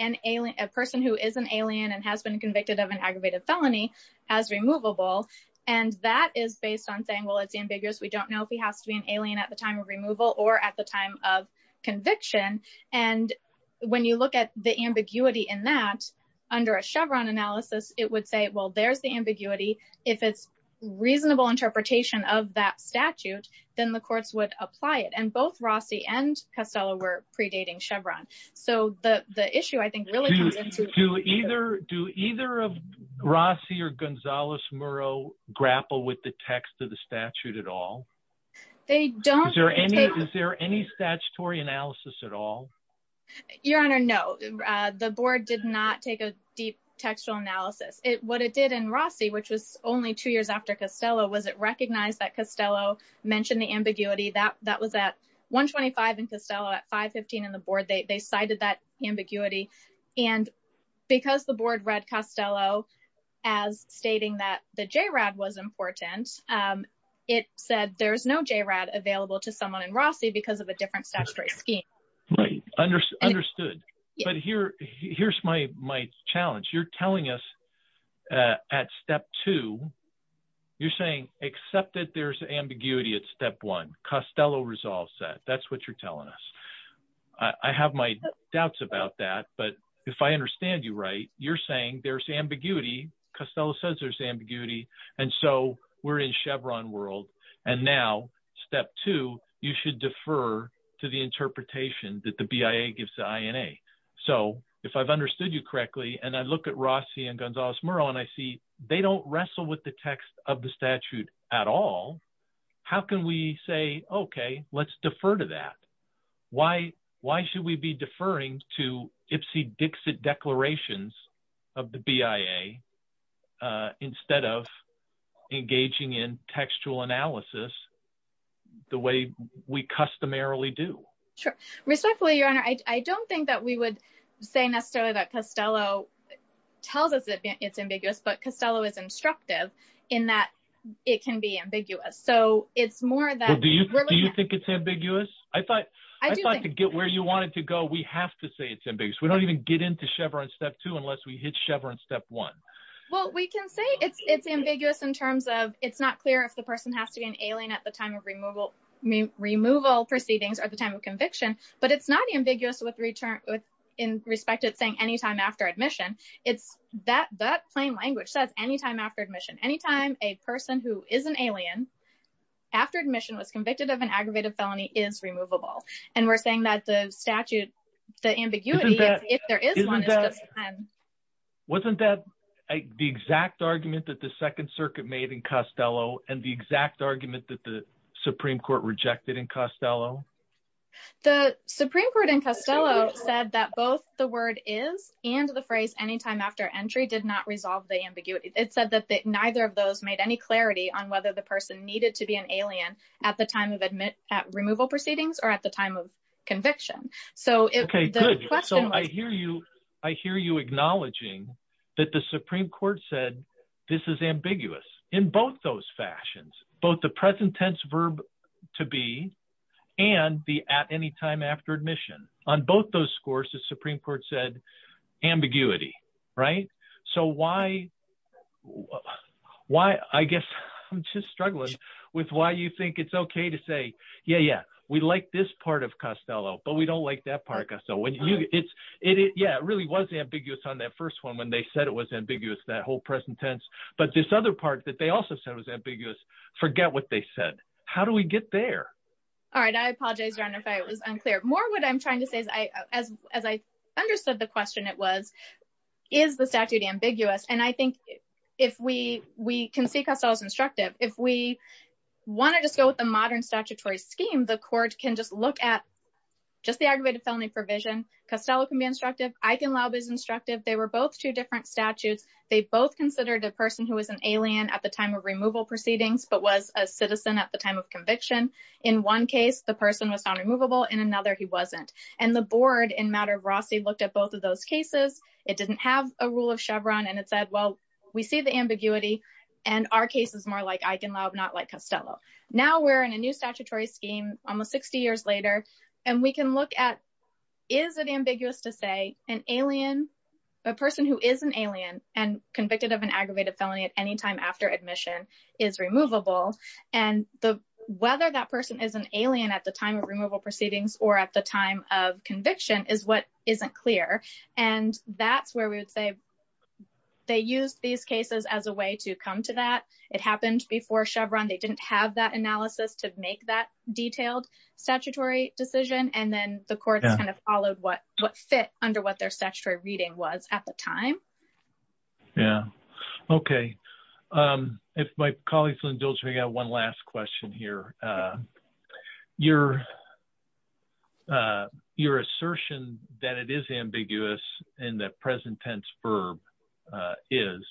a person who is an alien and has been convicted of an aggravated felony as removable, and that is based on saying, well, it's ambiguous, we don't know if he has to be an alien at the time of removal or at the time of conviction. And when you look at the ambiguity in that, under a Chevron analysis, it would say, well, there's the ambiguity. If it's a reasonable interpretation of that statute, then the courts would apply it, and both Rossi and Costello were predating Chevron. So the issue, I think, really... Do either of Rossi or Gonzales-Murrow grapple with the text of the statute at all? They don't... Is there any statutory analysis at all? Your Honor, no. The board did not take a deep textual analysis. What it did in Rossi, which was only two years after Costello, was it recognized that Costello mentioned the ambiguity. That was at 125 in Costello, at 515 in the board, they cited that ambiguity. And because the board read Costello as stating that the JRAD was important, it said there's no JRAD available to someone in Rossi because of a different statutory scheme. Right, understood. But here's my challenge. You're telling us at step two, you're saying, except that there's ambiguity at step one, Costello resolves that. That's what you're telling us. I have my doubts about that, but if I understand you right, you're saying there's ambiguity, Costello says there's ambiguity, and so we're in Chevron world. And now, step two, you should defer to the interpretation that the BIA gives the INA. So if I've understood you correctly, and I look at Rossi and Gonzales-Murrow, and I see they don't wrestle with the text of the statute at all, how can we say, okay, let's defer to that? Why should we be deferring to Ipsy-Dixit declarations of the BIA instead of engaging in textual analysis the way we customarily do? Respectfully, Your Honor, I don't think that we would say necessarily that Costello tells us it's ambiguous, but Costello is instructive in that it can be ambiguous. Do you think it's ambiguous? I'd like to get where you wanted to go. We have to say it's ambiguous. We don't even get into Chevron step two unless we hit Chevron step one. Well, we can say it's ambiguous in terms of it's not clear if the person has to be an alien at the time of removal proceedings or at the time of conviction, but it's not ambiguous with respect to saying anytime after admission. That plain language says anytime after admission. Anytime a person who is an alien after admission was convicted of an aggravated felony is removable. And we're saying that the statute, the ambiguity, if there is one, is at the time. Wasn't that the exact argument that the Second Circuit made in Costello and the exact argument that the Supreme Court rejected in Costello? The Supreme Court in Costello said that both the word is and the phrase anytime after entry did not resolve the ambiguity. It said that neither of those made any clarity on whether the person needed to be an alien at the time of removal proceedings or at the time of conviction. So I hear you. I hear you acknowledging that the Supreme Court said this is ambiguous in both those fashions, both the present tense verb to be and the at any time after admission. On both those scores, the Supreme Court said ambiguity, right? So why, I guess I'm just struggling with why you think it's okay to say, yeah, yeah, we like this part of Costello, but we don't like that part of Costello. Yeah, it really was ambiguous on that first one when they said it was ambiguous, that whole present tense. But this other part that they also said was ambiguous, forget what they said. How do we get there? All right, I apologize, John, if I was unclear. More what I'm trying to say is, as I understood the question, it was, is the statute ambiguous? And I think if we can see Costello's instructive, if we wanted to go with a modern statutory scheme, the court can just look at just the aggravated felony provision. Costello can be instructive. Eisenlauber is instructive. They were both two different statutes. They both considered a person who was an alien at the time of removal proceedings, but was a citizen at the time of conviction. In one case, the person was non-removable. In another, he wasn't. And the board, in matter of roughly, looked at both of those cases. It didn't have a rule of Chevron, and it said, well, we see the ambiguity, and our case is more like Eisenlauber, not like Costello. Now we're in a new statutory scheme, almost 60 years later, and we can look at, is it ambiguous to say an alien, a person who is an alien, and convicted of an aggravated felony at any time after admission, is removable? And whether that person is an alien at the time of removal proceedings, or at the time of conviction, is what isn't clear. And that's where we would say they used these cases as a way to come to that. It happened before Chevron. They didn't have that analysis to make that detailed statutory decision, and then the court kind of followed what fit under what their statutory reading was at the time. Yeah, okay. If my colleagues in the building have one last question here, your assertion that it is ambiguous in the present tense verb is,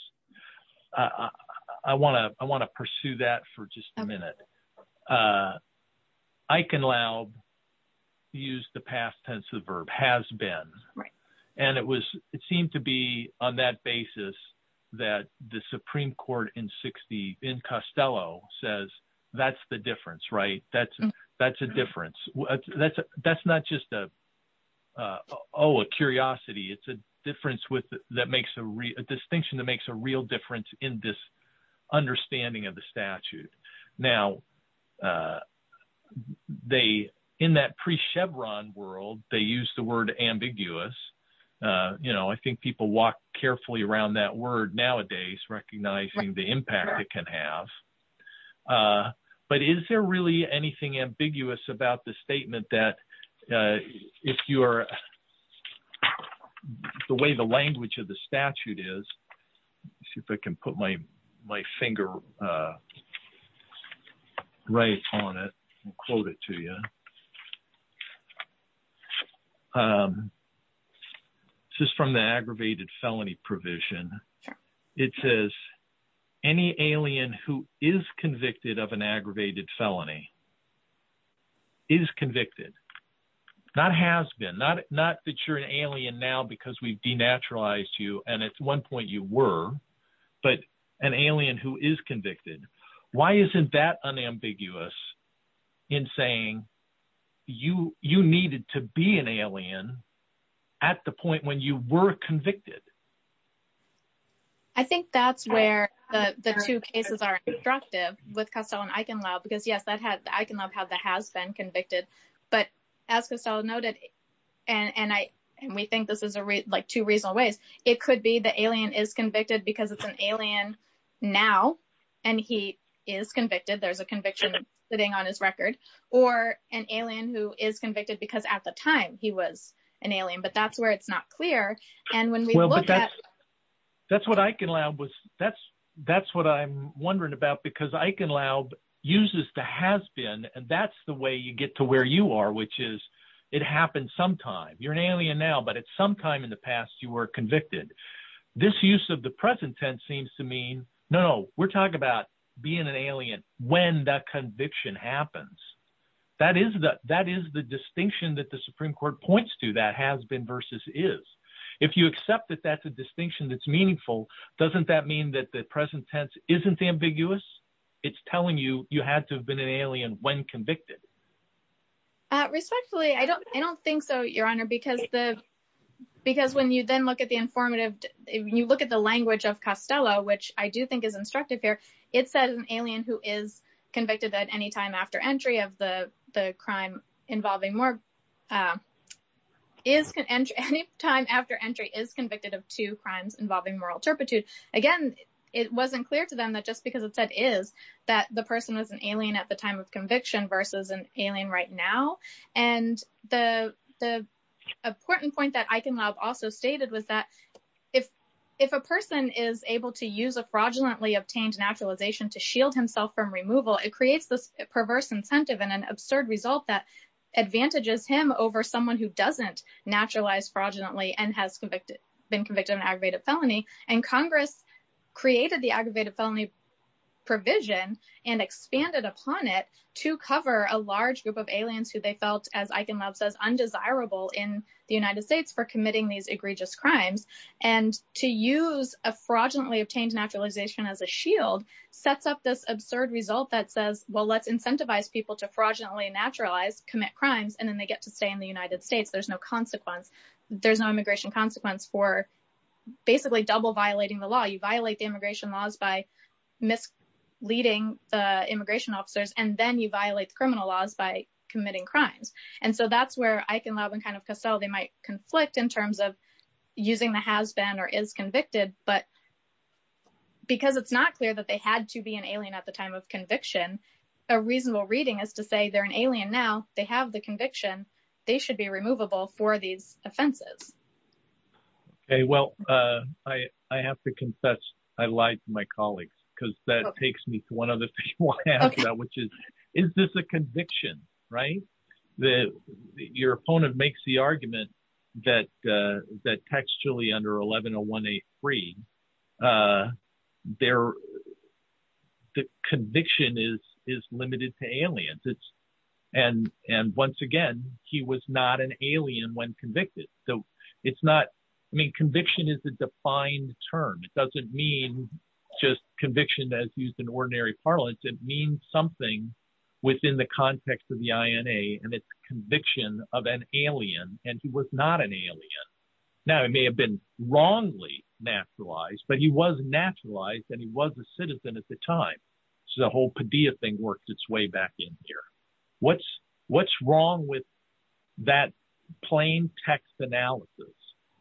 I want to pursue that for just a minute. Eichenlaub used the past tense of the verb, has been, and it seemed to be on that basis that the Supreme Court in 60, in Costello, says that's the difference, right? That's a difference. That's not just a curiosity. It's a distinction that makes a real difference in this understanding of the statute. Now, in that I think people walk carefully around that word nowadays, recognizing the impact it can have. But is there really anything ambiguous about the statement that, if you're, the way the language of the statute is, see if I can put my finger right on it and quote it to you. This is from the aggravated felony provision. It says, any alien who is convicted of an aggravated felony, is convicted, not has been, not that you're an alien now because we've denaturalized you, and at one point you were, but an alien who is convicted. Why isn't that unambiguous in saying you needed to be an alien at the point when you were convicted? I think that's where the two cases are constructive with Costello and Eichenlaub, because yes, Eichenlaub has been convicted, but as Costello noted, and we think this is like two reasonable ways, it could be the alien is convicted because it's an alien now, and he is convicted, there's a conviction sitting on his record, or an alien who is convicted because at the time he was an alien, but that's where it's not clear. That's what I'm wondering about, because Eichenlaub uses the has been, and that's the way you get to where you are, which is, it happened sometime. You're an alien now, but at some time in the past you were convicted. This use of the present tense seems to mean, no, we're talking about being an alien when that conviction happens. That is the distinction that the Supreme Court points to, that has been versus is. If you accept that that's a distinction that's meaningful, doesn't that mean that the present tense isn't ambiguous? It's telling you you had to have been an alien when convicted. Respectfully, I don't think so, Your Honor, because when you then look at the language of Costello, which I do think is instructive here, it says an alien who is convicted at any time after entry of the crime involving moral turpitude, is convicted of two crimes involving moral turpitude. Again, it wasn't clear to them that just because it said is, that the person was an alien at the time of conviction versus an alien right now. The important point that Eichenlaub also stated was that if a person is able to use a fraudulently obtained naturalization to shield himself from removal, it creates this perverse incentive and an absurd result that advantages him over someone who doesn't naturalize fraudulently and has been convicted of an aggravated felony. Congress created the aggravated felony provision and cover a large group of aliens who they felt, as Eichenlaub says, undesirable in the United States for committing these egregious crimes. To use a fraudulently obtained naturalization as a shield sets up this absurd result that says, well, let's incentivize people to fraudulently naturalize, commit crimes, and then they get to stay in the United States. There's no consequence. There's no immigration consequence for basically double violating the law. You violate the immigration laws by misleading immigration officers, and then you violate criminal laws by committing crimes. And so that's where Eichenlaub and kind of Cassell, they might conflict in terms of using the has been or is convicted, but because it's not clear that they had to be an alien at the time of conviction, a reasonable reading is to say they're an alien now, they have the conviction, they should be removable for these offenses. Okay, well, I have to confess, I lied to my colleagues, because that takes me to one of the people I asked about, which is, is this a conviction, right? Your opponent makes the argument that textually under 1101A3, their conviction is limited to aliens. And once again, he was not an alien when convicted. So it's not, I mean, conviction is a defined term. It doesn't mean just conviction as used in ordinary parlance. It means something within the context of the INA, and it's conviction of an alien, and he was not an alien. Now, he may have been wrongly naturalized, but he was naturalized, and he was a citizen at the time. So the whole Padilla thing worked its way back in here. What's wrong with that plain text analysis?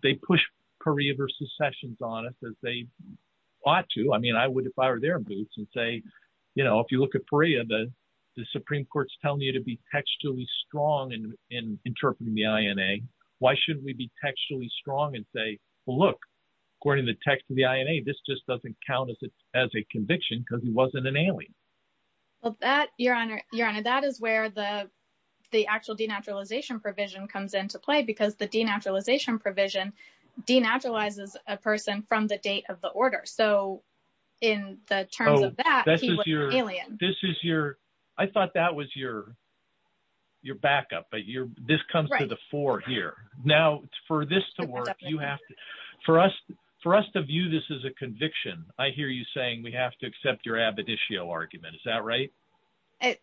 They push Perea versus Sessions on us as they ought to. I mean, I would have fired their boots and say, you know, if you look at Perea, the Supreme Court's telling you to be textually strong in interpreting the INA. Why shouldn't we be textually strong and say, well, look, according to the text of the INA, this just doesn't count as a conviction because he wasn't an alien. Well, that, Your Honor, that is where the actual denaturalization provision comes into play because the denaturalization provision denaturalizes a person from the date of the order. So in the terms of that, he was an alien. This is your, I thought that was your backup, but this comes to the fore here. Now, for this to work, you have to, for us to view this as a conviction, I hear you saying we have to accept your ab-editio argument. Is that right?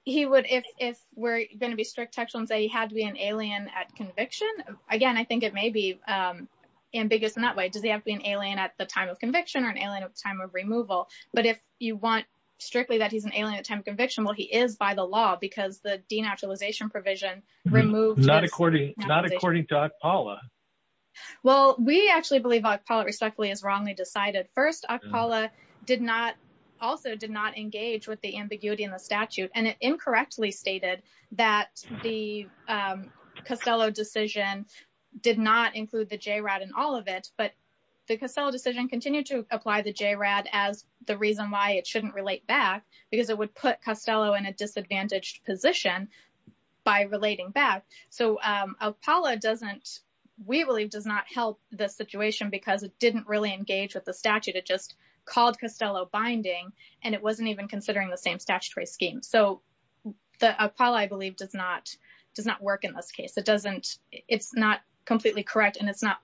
He would, if we're going to be strict textual and say he had to be an alien at conviction, again, I think it may be ambiguous in that way. Does he have to be an alien at the time of conviction or an alien at the time of removal? But if you want strictly that he's an alien at the time of conviction, well, he is by the law because the denaturalization provision removes... Not according to ACPALA. Well, we actually believe ACPALA respectfully is wrongly decided. First, ACPALA did not, also did not engage with the ambiguity in the statute and it incorrectly stated that the Costello decision did not include the JRAD in all of it, but the Costello decision continued to apply the JRAD as the reason why it shouldn't relate back because it would put Costello in a disadvantaged position by relating back. So ACPALA doesn't, we believe does not help the situation because it didn't really engage with the statute. It just called Costello binding and it wasn't even considering the same statutory scheme. So ACPALA, I believe, does not does not work in this case. It doesn't, it's not completely correct and it's not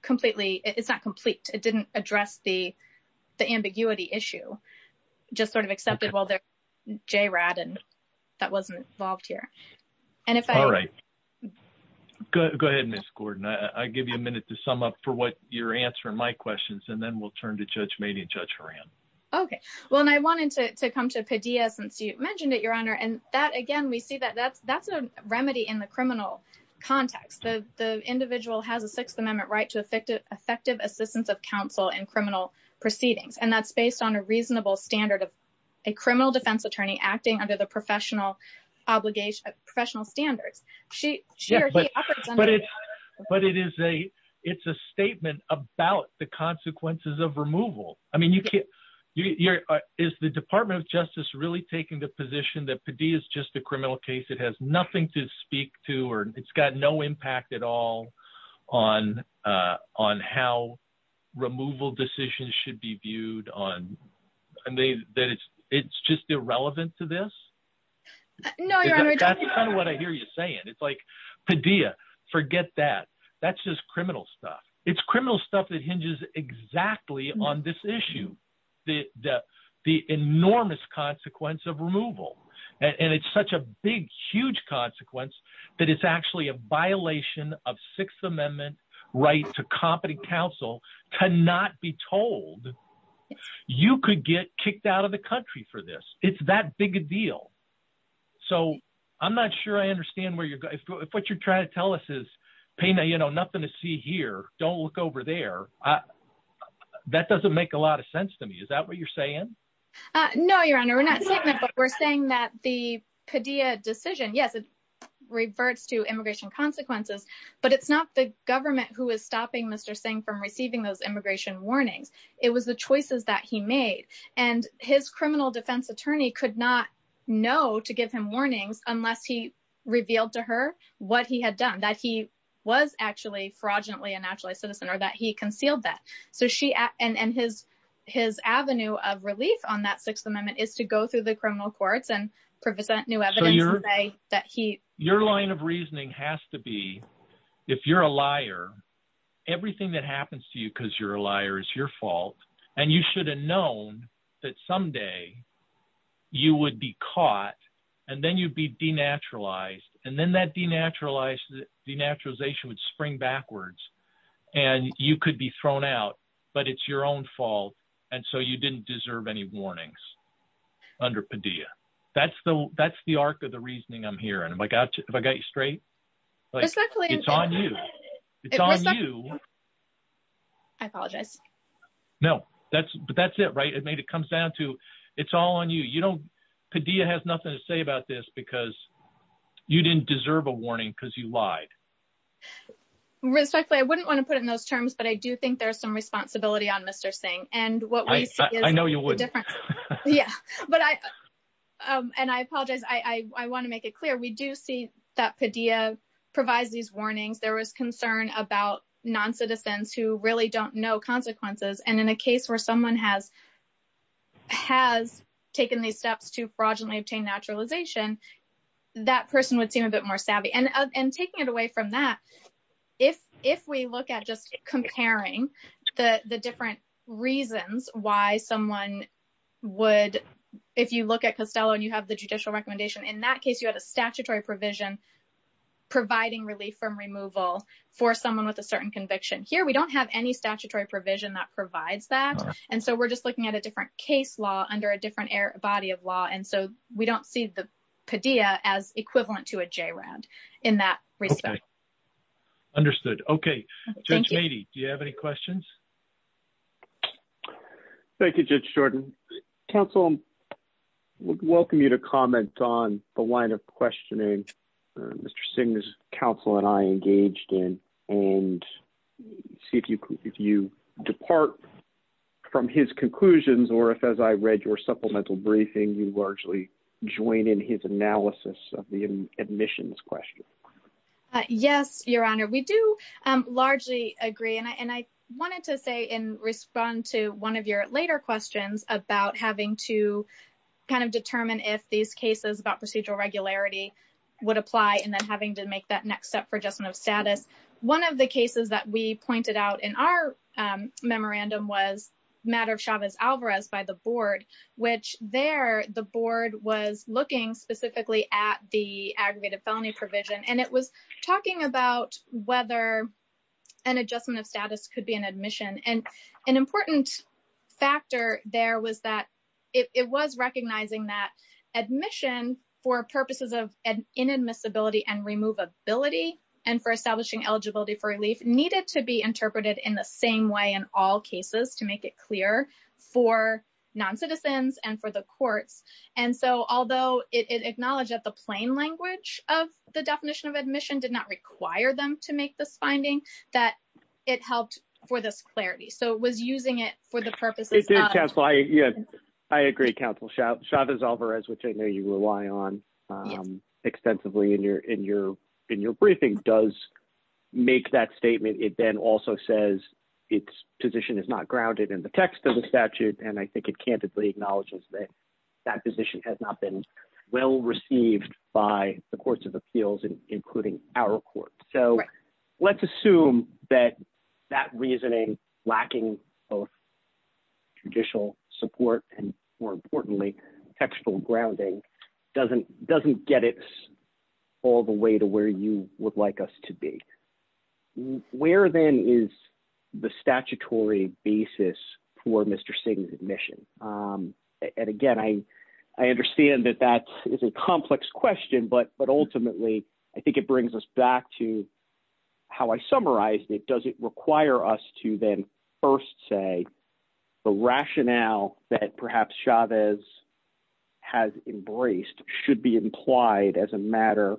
completely, it's not complete. It didn't address the ambiguity issue, just sort of accepted while there's JRAD and that wasn't involved here. And if I... All right. Go ahead, Ms. Gordon. I give you a minute to sum up for what your answer and my questions and then we'll turn to Judge Mayne and Judge Horan. Okay. Well, and I wanted to come to Padilla since you mentioned it, Your Honor, and that again, we see that that's a remedy in the criminal context. The individual has a Sixth Amendment right to effective assistance of counsel in criminal proceedings and that's based on a reasonable standard of a criminal defense attorney acting under the professional obligation, professional standards. She shares the upper statement about the consequences of removal. I mean, you can't, you're, is the Department of Justice really taking the position that Padilla is just a criminal case? It has nothing to speak to or it's got no impact at all on, on how removal decisions should be viewed on, and they, that it's, it's just irrelevant to this? No, Your Honor. That's kind of what I hear you saying. It's like Padilla, forget that. That's just criminal stuff. It's criminal stuff that hinges exactly on this issue, that the enormous consequence of removal, and it's such a big, huge consequence that it's actually a violation of Sixth Amendment right to competent counsel cannot be told. You could get kicked out of the country for this. It's that big a deal. So I'm not sure I understand where you're going. If what you're trying to tell us is, Tina, you know, nothing to see here, don't look over there. That doesn't make a lot of sense to me. Is that what you're saying? No, Your Honor. We're not saying that the Padilla decision, yes, it reverts to immigration consequences, but it's not the government who is stopping Mr. Singh from receiving those immigration warnings. It was the choices that he made, and his criminal defense attorney could not know to give him warnings unless he revealed to her what he had done, that he was actually, fraudulently, a naturalized citizen, or that he concealed that. So she, and his avenue of relief on that Sixth Amendment is to go through the criminal courts and present new evidence to say that he... Your line of reasoning has to be, if you're a liar, everything that happens to you because you're a liar is your fault, and you should have known that someday you would be caught, and then you'd be denaturalized, and then that denaturalization would spring backwards, and you could be thrown out, but it's your own fault, and so you didn't deserve any warnings under Padilla. That's the arc of the reasoning I'm hearing. Have I got you straight? Exactly. It's on you. It's on you. I apologize. No, but that's it, right? It comes down to, it's all on you. Padilla has nothing to say about this because you didn't deserve a warning because you lied. I wouldn't want to put it in those terms, but I do think there's some responsibility on Mr. Singh, and what we... I know you wouldn't. Yeah, but I apologize. I want to make it clear. We do see that Padilla provides these warnings. There was concern about non-citizens who really don't know consequences, and in a case where someone has taken these steps to fraudulently obtain naturalization, that person would seem a bit more savvy, and taking it away from that, if we look at just comparing the different reasons why someone would, if you look at Costello and you have the judicial recommendation, in that case, you have a statutory provision providing relief from removal for someone with a certain conviction. Here, we don't have any statutory provision that provides that, and so we're just looking at a different case law under a different body of law, and so we don't see the Padilla as equivalent to a J round in that respect. Understood. Okay, Judge Mady, do you have any questions? Thank you, Judge Jordan. Counsel, I would welcome you to comment on the line of questioning Mr. Singh's counsel and I engaged in, and see if you depart from his conclusions, or if, as I read your supplemental briefing, you largely join in his analysis of the admissions question. Yes, Your Honor, we do largely agree, and I wanted to say and respond to one of your later questions about having to kind of determine if these cases about procedural regularity would apply, and then having to make that next step for just no status. One of the cases that we pointed out in our memorandum was matter of Chavez-Alvarez by the board, which there the board was looking specifically at the aggregated felony provision, and it was talking about whether an adjustment of status could be an admission, and an important factor there was that it was recognizing that admission for purposes of inadmissibility and removability, and for establishing eligibility for relief, needed to be interpreted in the same way in all cases to make it clear for non-citizens and for the courts. And so although it acknowledged that the plain language of the definition of admission did not require them to make this finding, that it helped for this clarity. So it was using it for the purposes of... It did, counsel. I agree, counsel. Chavez-Alvarez, which I know you rely on extensively in your briefing, does make that statement. It then also says its position is not grounded in the text of the statute, and I think it candidly acknowledges that that position has not been well-received by the courts of appeals, including our courts. So let's assume that that reasoning, lacking both judicial support and, more importantly, textual grounding, doesn't get it all the way to where you would like us to be. Where, then, is the statutory basis for Mr. Singh's admission? And again, I understand that that is a complex question, but ultimately, I think it brings us back to how I summarized it. Does it require us to then first say the rationale that perhaps Chavez has embraced should be implied as a matter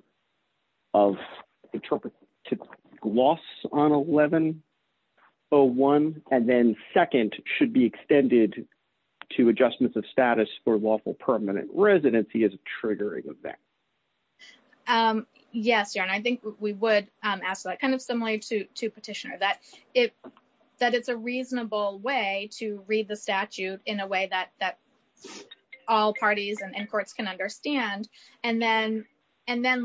of interpretive gloss on 1101, and then second, should be extended to adjustments of status for lawful permanent residency as a triggering effect? Yes, John, I think we would ask that, kind of similar to Petitioner, that it's a reasonable way to read the statute in a way that all parties and courts can understand, and then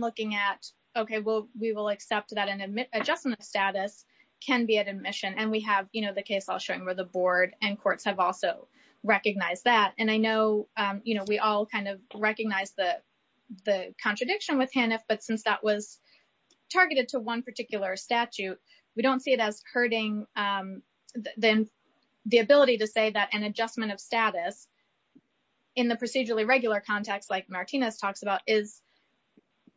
looking at, okay, well, we will accept that an adjustment of status can be an admission, and we have, you know, the case I'll show you where the board and courts have also recognized that, and I know, you know, we all kind of recognize the contradiction with HANF, but since that was targeted to one particular statute, we don't see it as hurting the ability to say that an adjustment of status, in the procedurally regular context like Martinez talks about, is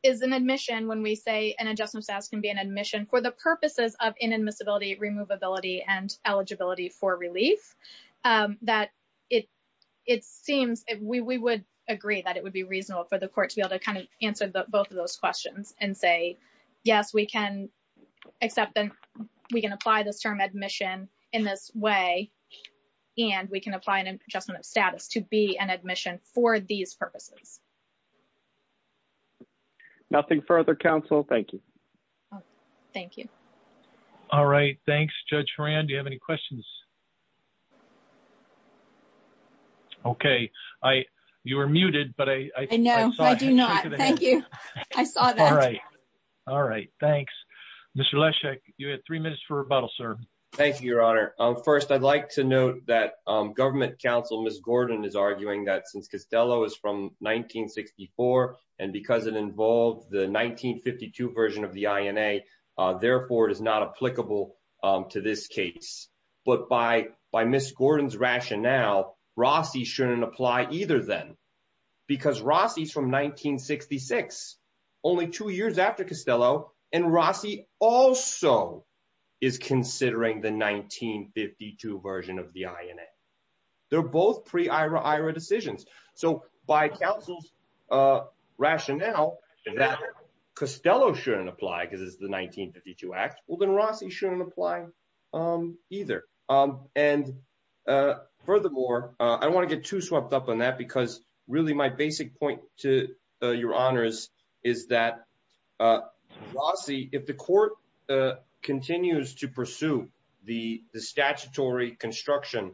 an admission when we say an adjustment of status can be an admission for the purposes of inadmissibility, removability, and eligibility for relief, that it seems, we would agree that it would be reasonable for the court to be able to kind of answer both of those questions and say, yes, we can accept them, we can apply this term admission in this way, and we can apply an adjustment of purpose. Nothing further, counsel. Thank you. Thank you. All right. Thanks, Judge Horan. Do you have any questions? Okay. I, you were muted, but I, I know, I do not. Thank you. I saw that. All right. All right. Thanks, Mr. Leszek. You have three minutes for rebuttal, sir. Thank you, Your Honor. First, I'd like to note that government counsel, Ms. Gordon, is arguing that since Costello is from 1964, and because it involves the 1952 version of the INA, therefore, it is not applicable to this case. But by, by Ms. Gordon's rationale, Rossi shouldn't apply either then, because Rossi's from 1966, only two years after Costello, and Rossi also is considering the 1952 version of the INA. They're both pre-IRA-IRA decisions. So by counsel's rationale, that Costello shouldn't apply because it's the 1952 Act. Well, then Rossi shouldn't apply either. And furthermore, I want to get too swept up on that because really my basic point to Your Honor is, is that Rossi, if the court continues to pursue the INA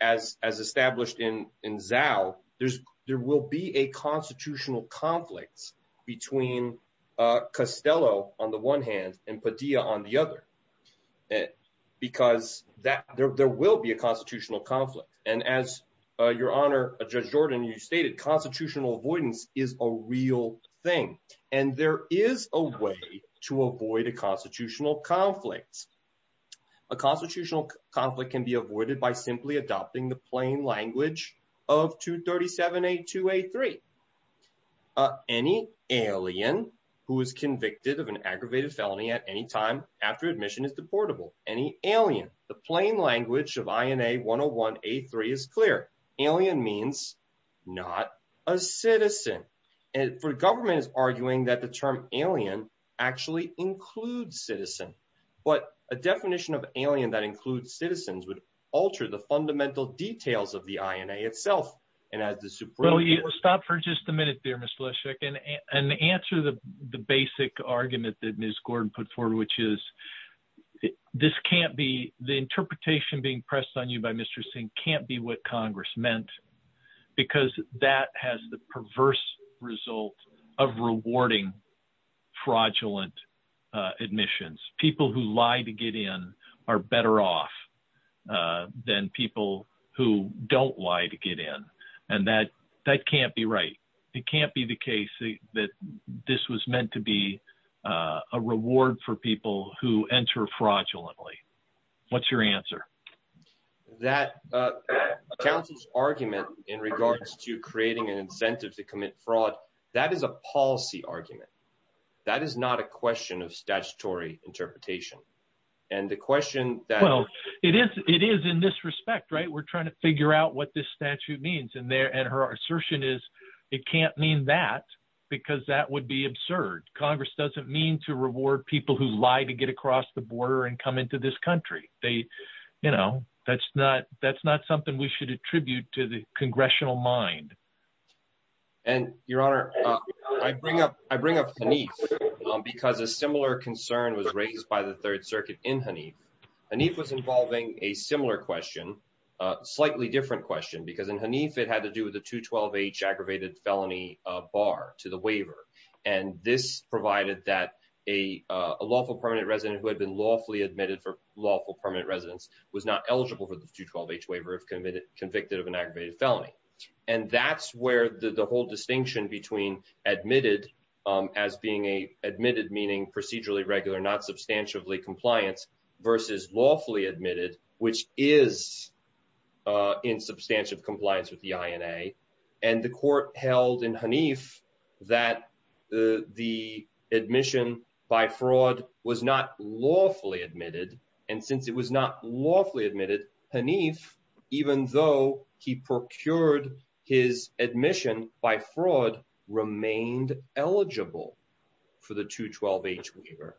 as, as established in Zao, there's, there will be a constitutional conflict between Costello on the one hand and Padilla on the other. Because that, there will be a constitutional conflict. And as Your Honor, Judge Jordan, you stated constitutional avoidance is a real thing. And there is a way to avoid a constitutional conflict. A constitutional conflict can be avoided by simply adopting the plain language of 237-A2-A3. Any alien who is convicted of an aggravated felony at any time after admission is deportable. Any alien. The plain language of INA 101-A3 is clear. Alien means not a citizen. And the government is arguing that the term alien actually includes citizen. But a definition of alien that includes citizens would alter the fundamental details of the INA itself and add the superlative. Stop for just a minute there, Mr. Leszek, and answer the basic argument that Ms. Gordon put forward, which is, this can't be, the interpretation being pressed on you by Mr. Singh can't be what Congress meant because that has the perverse result of rewarding fraudulent admissions. People who lie to get in are better off than people who don't lie to get in and that can't be right. It can't be the case that this was meant to be a reward for people who enter fraudulently. What's your answer? That counsel's argument in regards to creating an argument. That is not a question of statutory interpretation and the question. Well, it is in this respect, right? We're trying to figure out what this statute means and her assertion is it can't mean that because that would be absurd. Congress doesn't mean to reward people who lie to get across the border and come into this country. They, you know, that's not something we should attribute to the congressional mind. And your Honor, I bring up Hanif because a similar concern was raised by the Third Circuit in Hanif. Hanif was involving a similar question, slightly different question because in Hanif it had to do with the 212H aggravated felony bar to the waiver and this provided that a lawful permanent resident who had been lawfully admitted for lawful permanent residence was not eligible for the 212H waiver if convicted of an aggravated felony. And that's where the whole distinction between admitted as being a admitted meaning procedurally regular not substantively compliant versus lawfully admitted which is in substantive compliance with the INA and the court held in Hanif that the admission by fraud was not lawfully admitted and since it was not lawfully admitted Hanif even though he procured his admission by fraud remained eligible for the 212H waiver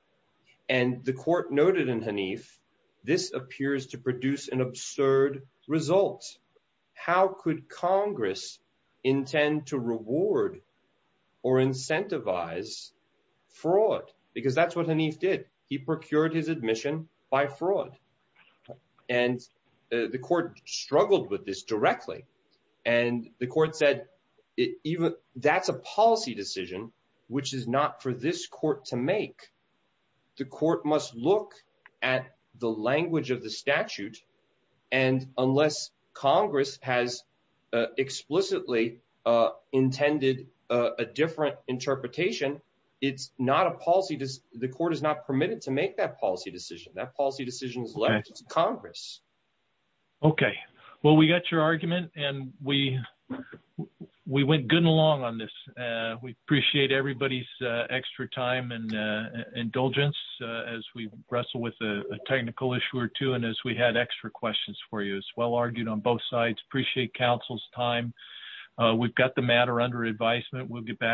and the court noted in Hanif this appears to produce an absurd result. How could Congress intend to reward or incentivize fraud because that's what Hanif did. He procured his admission by fraud and the court struggled with this directly and the court said that's a policy decision which is not for this court to make. The court must look at the language of the statute and unless Congress has explicitly intended a different interpretation, it's not a policy decision. The court is not permitted to make that policy decision. That policy decision is left to Congress. Okay. Well, we got your argument and we went good and long on this. We appreciate everybody's extra time and indulgence as we wrestle with a technical issue or two and as we had extra questions for you as well argued on both sides appreciate counsel's time. We've got the matter under advisement. We'll get back.